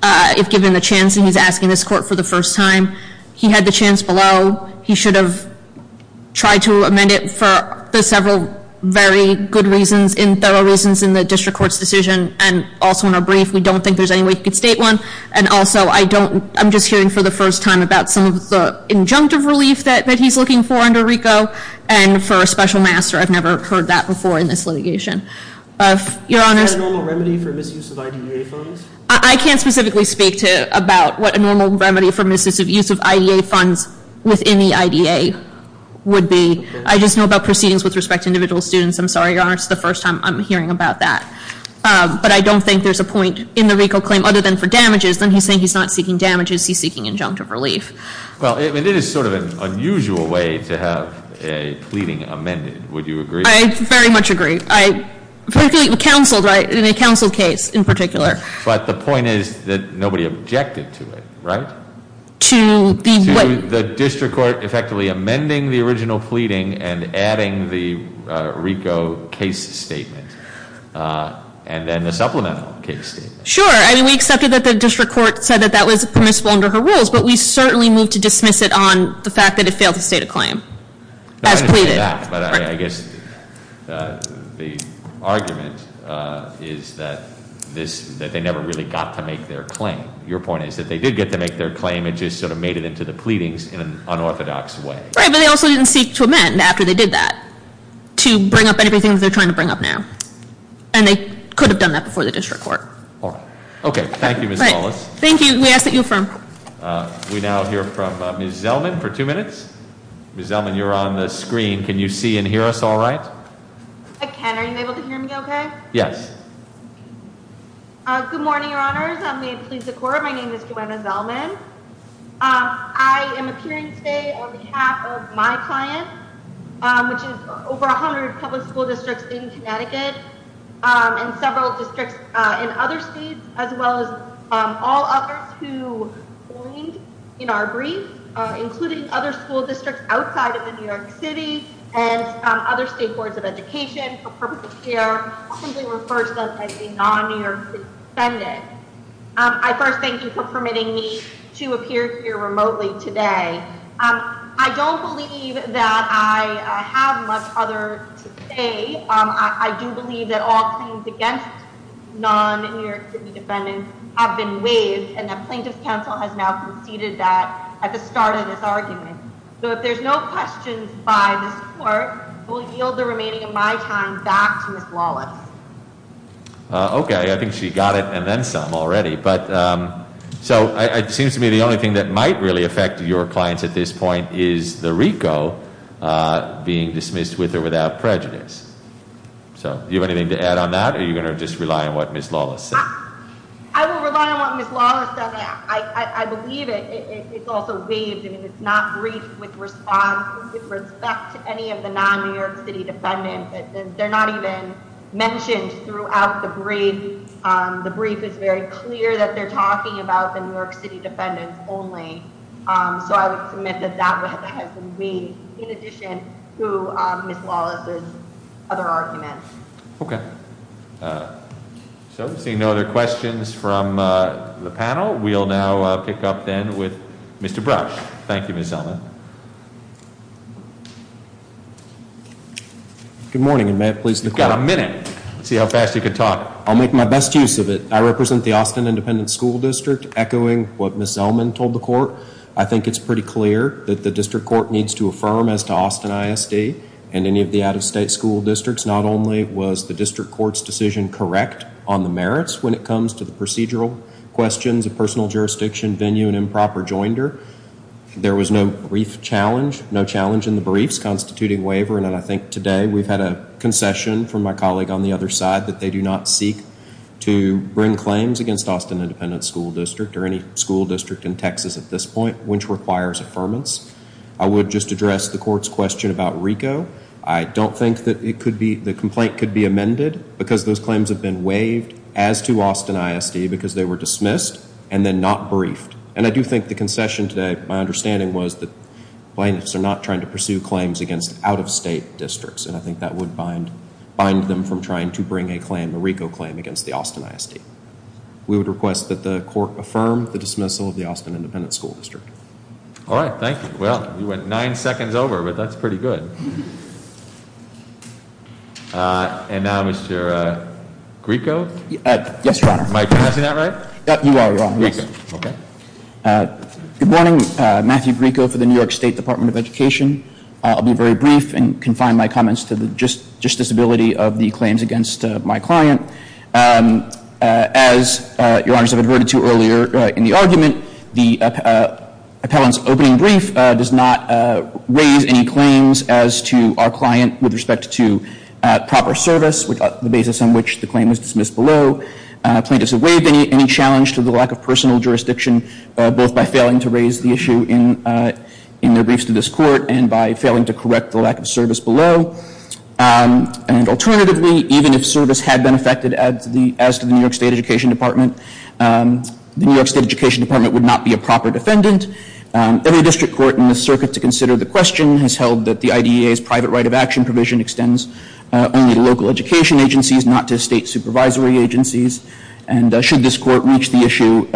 if given the chance, and he's asking this court for the first time. He had the chance below. He should have tried to amend it for the several very good reasons, in thorough reasons in the district court's decision, and also in a brief. We don't think there's any way he could state one. And also, I'm just hearing for the first time about some of the injunctive relief that he's looking for under RICO, and for a special master. I've never heard that before in this litigation. Is that a normal remedy for misuse of IDA funds? I can't specifically speak about what a normal remedy for misuse of IDA funds within the IDA would be. I just know about proceedings with respect to individual students. I'm sorry, Your Honor, it's the first time I'm hearing about that. But I don't think there's a point in the RICO claim other than for damages. Then he's saying he's not seeking damages, he's seeking injunctive relief. Well, it is sort of an unusual way to have a pleading amended. Would you agree? I very much agree. I think counsel, right, in a counsel case in particular. But the point is that nobody objected to it, right? To the what? The court effectively amending the original pleading and adding the RICO case statement. And then the supplemental case statement. Sure. I mean, we accepted that the district court said that that was permissible under her rules, but we certainly move to dismiss it on the fact that it failed to state a claim. As pleaded. I guess the argument is that they never really got to make their claim. Your point is that they did get to make their claim, it just sort of made it into the pleadings in an unorthodox way. Right, but they also didn't seek to amend after they did that. To bring up everything that they're trying to bring up now. And they could have done that before the district court. All right. Okay, thank you, Ms. Wallace. Thank you. We ask that you affirm. We now hear from Ms. Zellman for two minutes. Ms. Zellman, you're on the screen. Can you see and hear us all right? I can. Are you able to hear me okay? Yes. Good morning, your honors. May it please the court, my name is Joanna Zellman. I am appearing today on behalf of my client, which is over 100 public school districts in Connecticut, and several districts in other states, as well as all others who joined in our brief, including other school districts outside of the New York City, and other state boards of education for purpose of care, often referred to as a non-New York City defendant. I first thank you for permitting me to appear here remotely today. I don't believe that I have much other to say. I do believe that all claims against non-New York City defendants have been waived, and that plaintiff's counsel has now conceded that at the start of this argument. So if there's no questions by this court, I will yield the remaining of my time back to Ms. Lawless. Okay. I think she got it and then some already. So it seems to me the only thing that might really affect your clients at this point is the RICO being dismissed with or without prejudice. So do you have anything to add on that, or are you going to just rely on what Ms. Lawless said? I will rely on what Ms. Lawless said. I believe it's also waived. I mean, it's not briefed with respect to any of the non-New York City defendants. They're not even mentioned throughout the brief. The brief is very clear that they're talking about the New York City defendants only. So I would submit that that has been waived, in addition to Ms. Lawless's other arguments. Okay. So seeing no other questions from the panel, we'll now pick up then with Mr. Brush. Thank you, Ms. Zellman. Good morning, and may it please the court- You've got a minute. Let's see how fast you can talk. I'll make my best use of it. I represent the Austin Independent School District, echoing what Ms. Zellman told the court. I think it's pretty clear that the district court needs to affirm as to Austin ISD and any of the out-of-state school districts. Not only was the district court's decision correct on the merits when it comes to the procedural questions, the personal jurisdiction, venue, and improper joinder, there was no brief challenge, no challenge in the briefs constituting waiver. And I think today we've had a concession from my colleague on the other side that they do not seek to bring claims against Austin Independent School District or any school district in Texas at this point, which requires affirmance. I would just address the court's question about RICO. I don't think that the complaint could be amended because those claims have been waived as to Austin ISD because they were dismissed and then not briefed. And I do think the concession today, my understanding was that plaintiffs are not trying to pursue claims against out-of-state districts, and I think that would bind them from trying to bring a RICO claim against the Austin ISD. We would request that the court affirm the dismissal of the Austin Independent School District. All right, thank you. Well, you went nine seconds over, but that's pretty good. And now Mr. Grieco? Yes, Your Honor. Am I pronouncing that right? You are, Your Honor, yes. Okay. Good morning. Matthew Grieco for the New York State Department of Education. I'll be very brief and confine my comments to the justiciability of the claims against my client. As Your Honors have adverted to earlier in the argument, the appellant's opening brief does not raise any claims as to our client with respect to proper service, the basis on which the claim was dismissed below. Plaintiffs have waived any challenge to the lack of personal jurisdiction, both by failing to raise the issue in their briefs to this court and by failing to correct the lack of service below. And alternatively, even if service had been affected as to the New York State Education Department, the New York State Education Department would not be a proper defendant. Every district court in the circuit to consider the question has held that the IDEA's private right of action provision extends only to local education agencies, not to state supervisory agencies. And should this court reach the issue,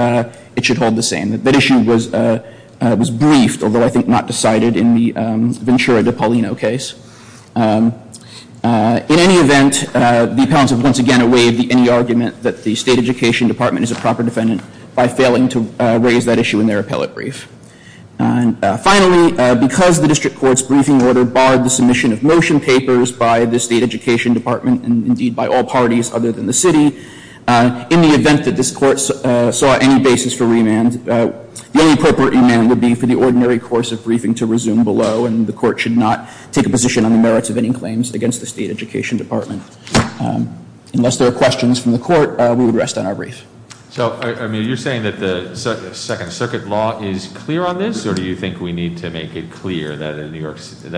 it should hold the same. That issue was briefed, although I think not decided in the Ventura de Paulino case. In any event, the appellants have once again waived any argument that the State Education Department is a proper defendant by failing to raise that issue in their appellate brief. Finally, because the district court's briefing order barred the submission of motion papers by the State Education Department and indeed by all parties other than the city, in the event that this court saw any basis for remand, the only appropriate remand would be for the ordinary course of briefing to resume below, and the court should not take a position on the merits of any claims against the State Education Department. Unless there are questions from the court, we would rest on our brief. So, I mean, you're saying that the Second Circuit law is clear on this, or do you think we need to make it clear that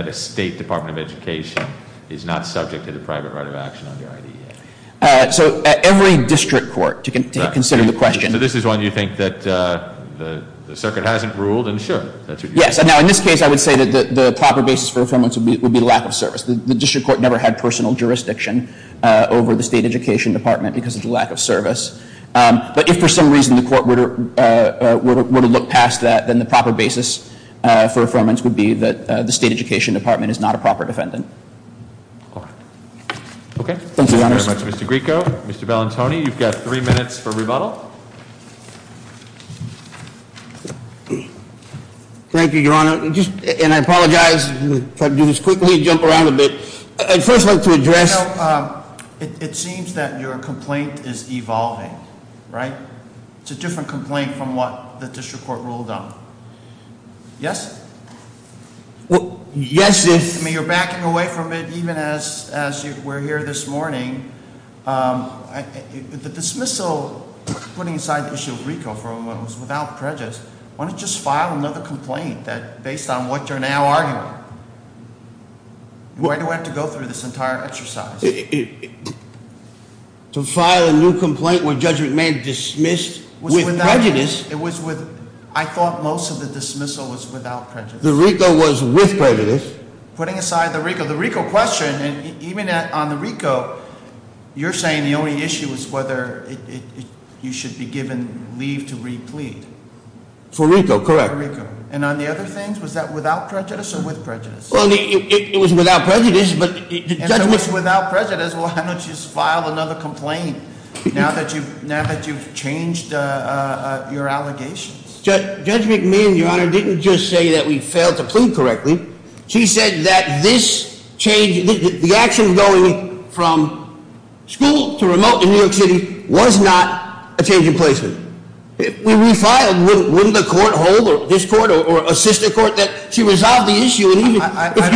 a State Department of Education is not subject to the private right of action under IDEA? So every district court, to consider the question. So this is one you think that the Circuit hasn't ruled, and sure, that's what you think. Yes. Now, in this case, I would say that the proper basis for affirmance would be lack of service. The district court never had personal jurisdiction over the State Education Department because of the lack of service. But if for some reason the court were to look past that, then the proper basis for affirmance would be that the State Education Department is not a proper defendant. All right. Okay. Thank you very much, Mr. Grieco. Mr. Bellantoni, you've got three minutes for rebuttal. Thank you, Your Honor. And I apologize. I'll try to do this quickly and jump around a bit. I'd first like to address- You know, it seems that your complaint is evolving, right? It's a different complaint from what the district court ruled on. Yes? Well, yes, if- Excuse me, you're backing away from it even as we're here this morning. The dismissal, putting aside the issue of Grieco for a moment, was without prejudice. Why don't you just file another complaint based on what you're now arguing? Why do I have to go through this entire exercise? To file a new complaint where Judge McMahon dismissed with prejudice? It was with, I thought most of the dismissal was without prejudice. The Grieco was with prejudice. Putting aside the Grieco. The Grieco question, even on the Grieco, you're saying the only issue is whether you should be given leave to replead. For Grieco, correct. For Grieco. And on the other things, was that without prejudice or with prejudice? It was without prejudice, but- And if it was without prejudice, why don't you just file another complaint now that you've changed your allegations? Judge McMahon, Your Honor, didn't just say that we failed to plead correctly. She said that this change, the action going from school to remote in New York City was not a change in placement. If we refiled, wouldn't the court hold, or this court, or a sister court, that she resolved the issue and even if you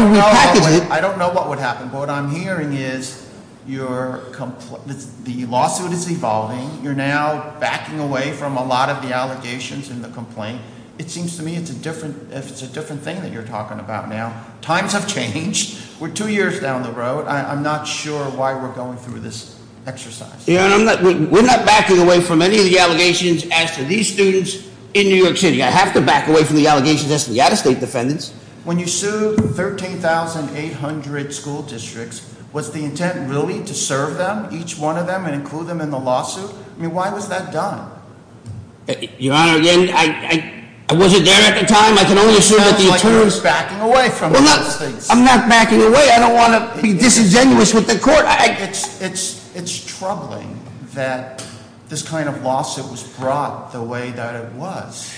repackaged it- I don't know what would happen, but what I'm hearing is the lawsuit is evolving. You're now backing away from a lot of the allegations in the complaint. It seems to me it's a different thing that you're talking about now. Times have changed. We're two years down the road. I'm not sure why we're going through this exercise. We're not backing away from any of the allegations as to these students in New York City. I have to back away from the allegations as to the out of state defendants. When you sued 13,800 school districts, was the intent really to serve them, each one of them, and include them in the lawsuit? I mean, why was that done? Your Honor, I wasn't there at the time. I can only assume that the attorney is backing away from these things. I'm not backing away. I don't want to be disingenuous with the court. It's troubling that this kind of lawsuit was brought the way that it was.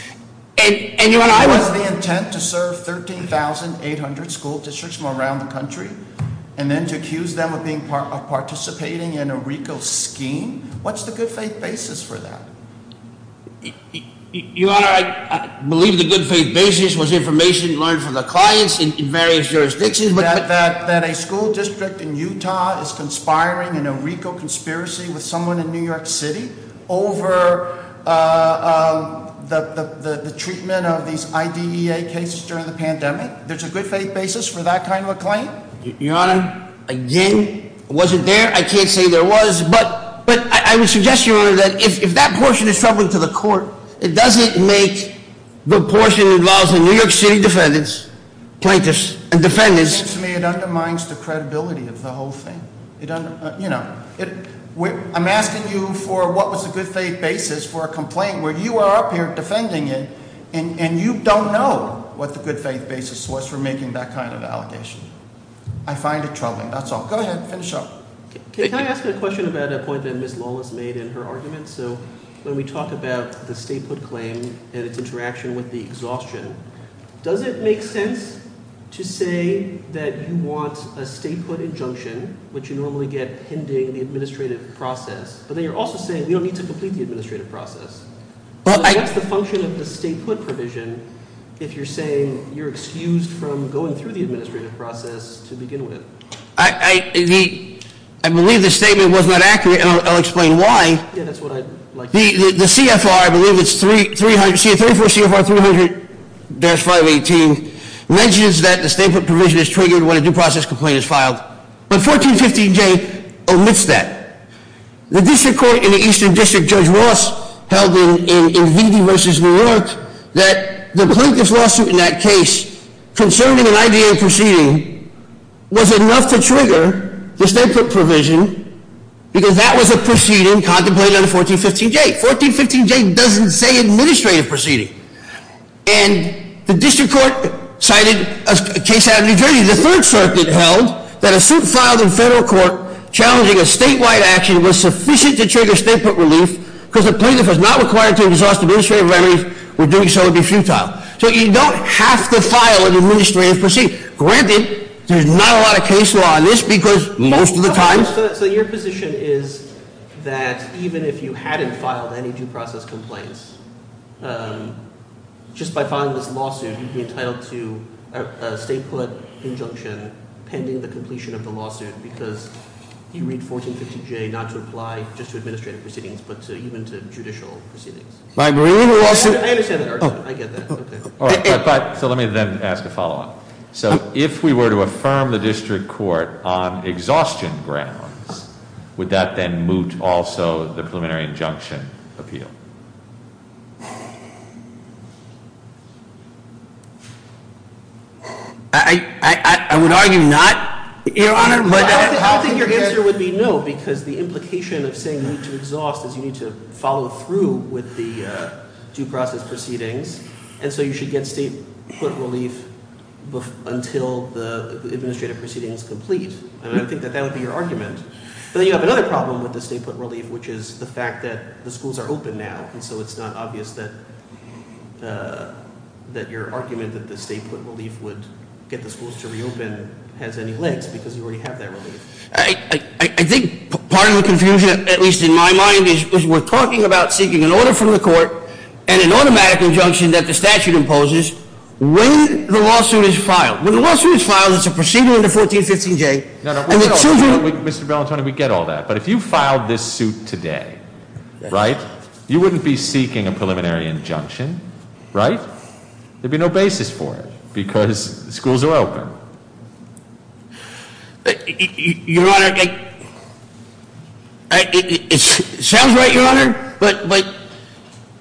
And your Honor- Was the intent to serve 13,800 school districts from around the country? And then to accuse them of participating in a RICO scheme? What's the good faith basis for that? Your Honor, I believe the good faith basis was information learned from the clients in various jurisdictions. That a school district in Utah is conspiring in a RICO conspiracy with someone in New York City over the treatment of these IDEA cases during the pandemic. There's a good faith basis for that kind of a claim. Your Honor, again, I wasn't there. I can't say there was. But I would suggest, Your Honor, that if that portion is troubling to the court, it doesn't make the portion involving New York City defendants, plaintiffs, and defendants- To me, it undermines the credibility of the whole thing. I'm asking you for what was the good faith basis for a complaint where you are up here defending it, and you don't know what the good faith basis was for making that kind of allegation. I find it troubling. That's all. Go ahead. Finish up. Thank you. Can I ask a question about a point that Ms. Lawless made in her argument? So when we talk about the statehood claim and its interaction with the exhaustion, does it make sense to say that you want a statehood injunction, which you normally get pending the administrative process, but then you're also saying we don't need to complete the administrative process. What's the function of the statehood provision if you're saying you're excused from going through the administrative process to begin with? I believe the statement was not accurate, and I'll explain why. Yeah, that's what I'd like to know. The CFR, I believe it's 34 CFR 300-518, mentions that the statehood provision is triggered when a due process complaint is filed. But 1415J omits that. The district court in the Eastern District, Judge Ross, held in VD versus New York, that the plaintiff's lawsuit in that case concerning an IDA proceeding was enough to trigger the statehood provision because that was a proceeding contemplated under 1415J. 1415J doesn't say administrative proceeding. And the district court cited a case out of New Jersey. The Third Circuit held that a suit filed in federal court challenging a statewide action was sufficient to trigger statehood relief because the plaintiff was not required to exhaust administrative remedies, or doing so would be futile. So you don't have to file an administrative proceeding. Granted, there's not a lot of case law on this because most of the time- So your position is that even if you hadn't filed any due process complaints, just by filing this lawsuit, you'd be entitled to a statehood injunction pending the completion of the lawsuit because you read 1415J not to apply just to administrative proceedings, but even to judicial proceedings. I understand that argument. I get that. Okay. So let me then ask a follow-up. So if we were to affirm the district court on exhaustion grounds, would that then moot also the preliminary injunction appeal? I would argue not, Your Honor, but- I don't think your answer would be no because the implication of saying you need to exhaust is you need to follow through with the due process proceedings. And so you should get statehood relief until the administrative proceeding is complete. And I think that that would be your argument. But then you have another problem with the statehood relief, which is the fact that the schools are open now. And so it's not obvious that your argument that the statehood relief would get the schools to reopen has any legs because you already have that relief. I think part of the confusion, at least in my mind, is we're talking about seeking an order from the court and an automatic injunction that the statute imposes when the lawsuit is filed. When the lawsuit is filed, it's a proceeding under 1415J. No, no. Mr. Bellantoni, we get all that. But if you filed this suit today, right, you wouldn't be seeking a preliminary injunction, right? There'd be no basis for it because the schools are open. Your Honor, it sounds right, Your Honor. But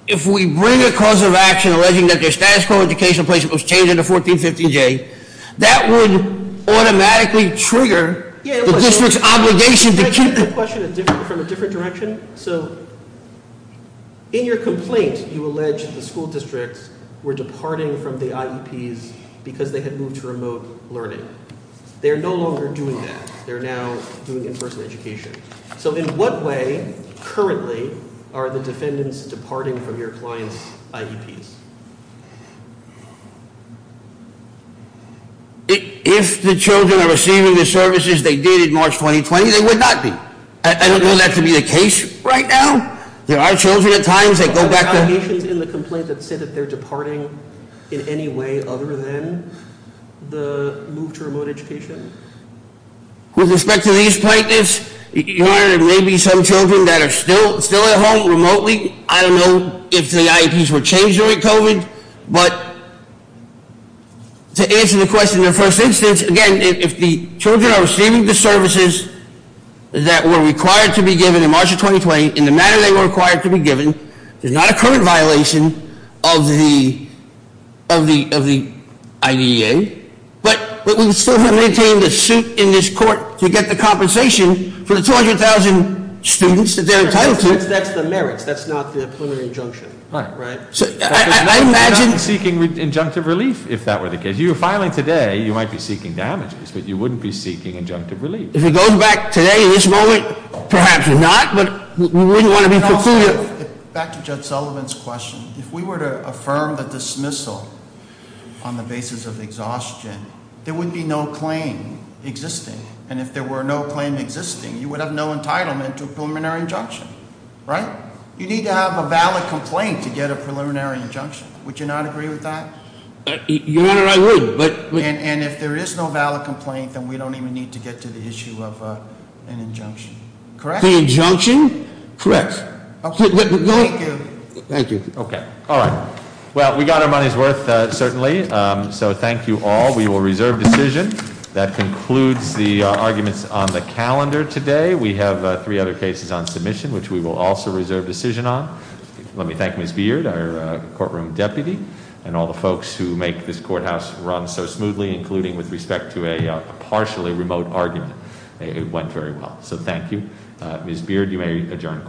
if we bring a cause of action alleging that their status quo educational placement was changed under 1415J, that would automatically trigger the district's obligation to keep- Can I take that question from a different direction? So in your complaint, you allege the school districts were departing from the IEPs because they had moved to remote learning. They're no longer doing that. They're now doing in-person education. So in what way, currently, are the defendants departing from your clients' IEPs? If the children are receiving the services they did in March 2020, they would not be. I don't know that to be the case right now. There are children at times that go back to- Are there any locations in the complaint that say that they're departing in any way other than the move to remote education? With respect to these plaintiffs, Your Honor, there may be some children that are still at home remotely. I don't know if the IEPs were changed during COVID, but to answer the question in the first instance, again, if the children are receiving the services that were required to be given in March of 2020, in the manner they were required to be given, there's not a current violation of the IDEA. But we still have to maintain the suit in this court to get the compensation for the 200,000 students that they're entitled to. That's the merits. That's not the preliminary injunction, right? I imagine- You're not seeking injunctive relief, if that were the case. You're filing today. You might be seeking damages, but you wouldn't be seeking injunctive relief. If it goes back today, this moment, perhaps not, but we wouldn't want to be- Back to Judge Sullivan's question. If we were to affirm the dismissal on the basis of exhaustion, there would be no claim existing. And if there were no claim existing, you would have no entitlement to a preliminary injunction, right? You need to have a valid complaint to get a preliminary injunction. Would you not agree with that? Your Honor, I would, but- And if there is no valid complaint, then we don't even need to get to the issue of an injunction, correct? The injunction? Correct. Thank you. Thank you. Okay, all right. Well, we got our money's worth, certainly, so thank you all. We will reserve decision. That concludes the arguments on the calendar today. We have three other cases on submission, which we will also reserve decision on. Let me thank Ms. Beard, our courtroom deputy, and all the folks who make this courthouse run so smoothly, including with respect to a partially remote argument. It went very well, so thank you. Ms. Beard, you may adjourn court.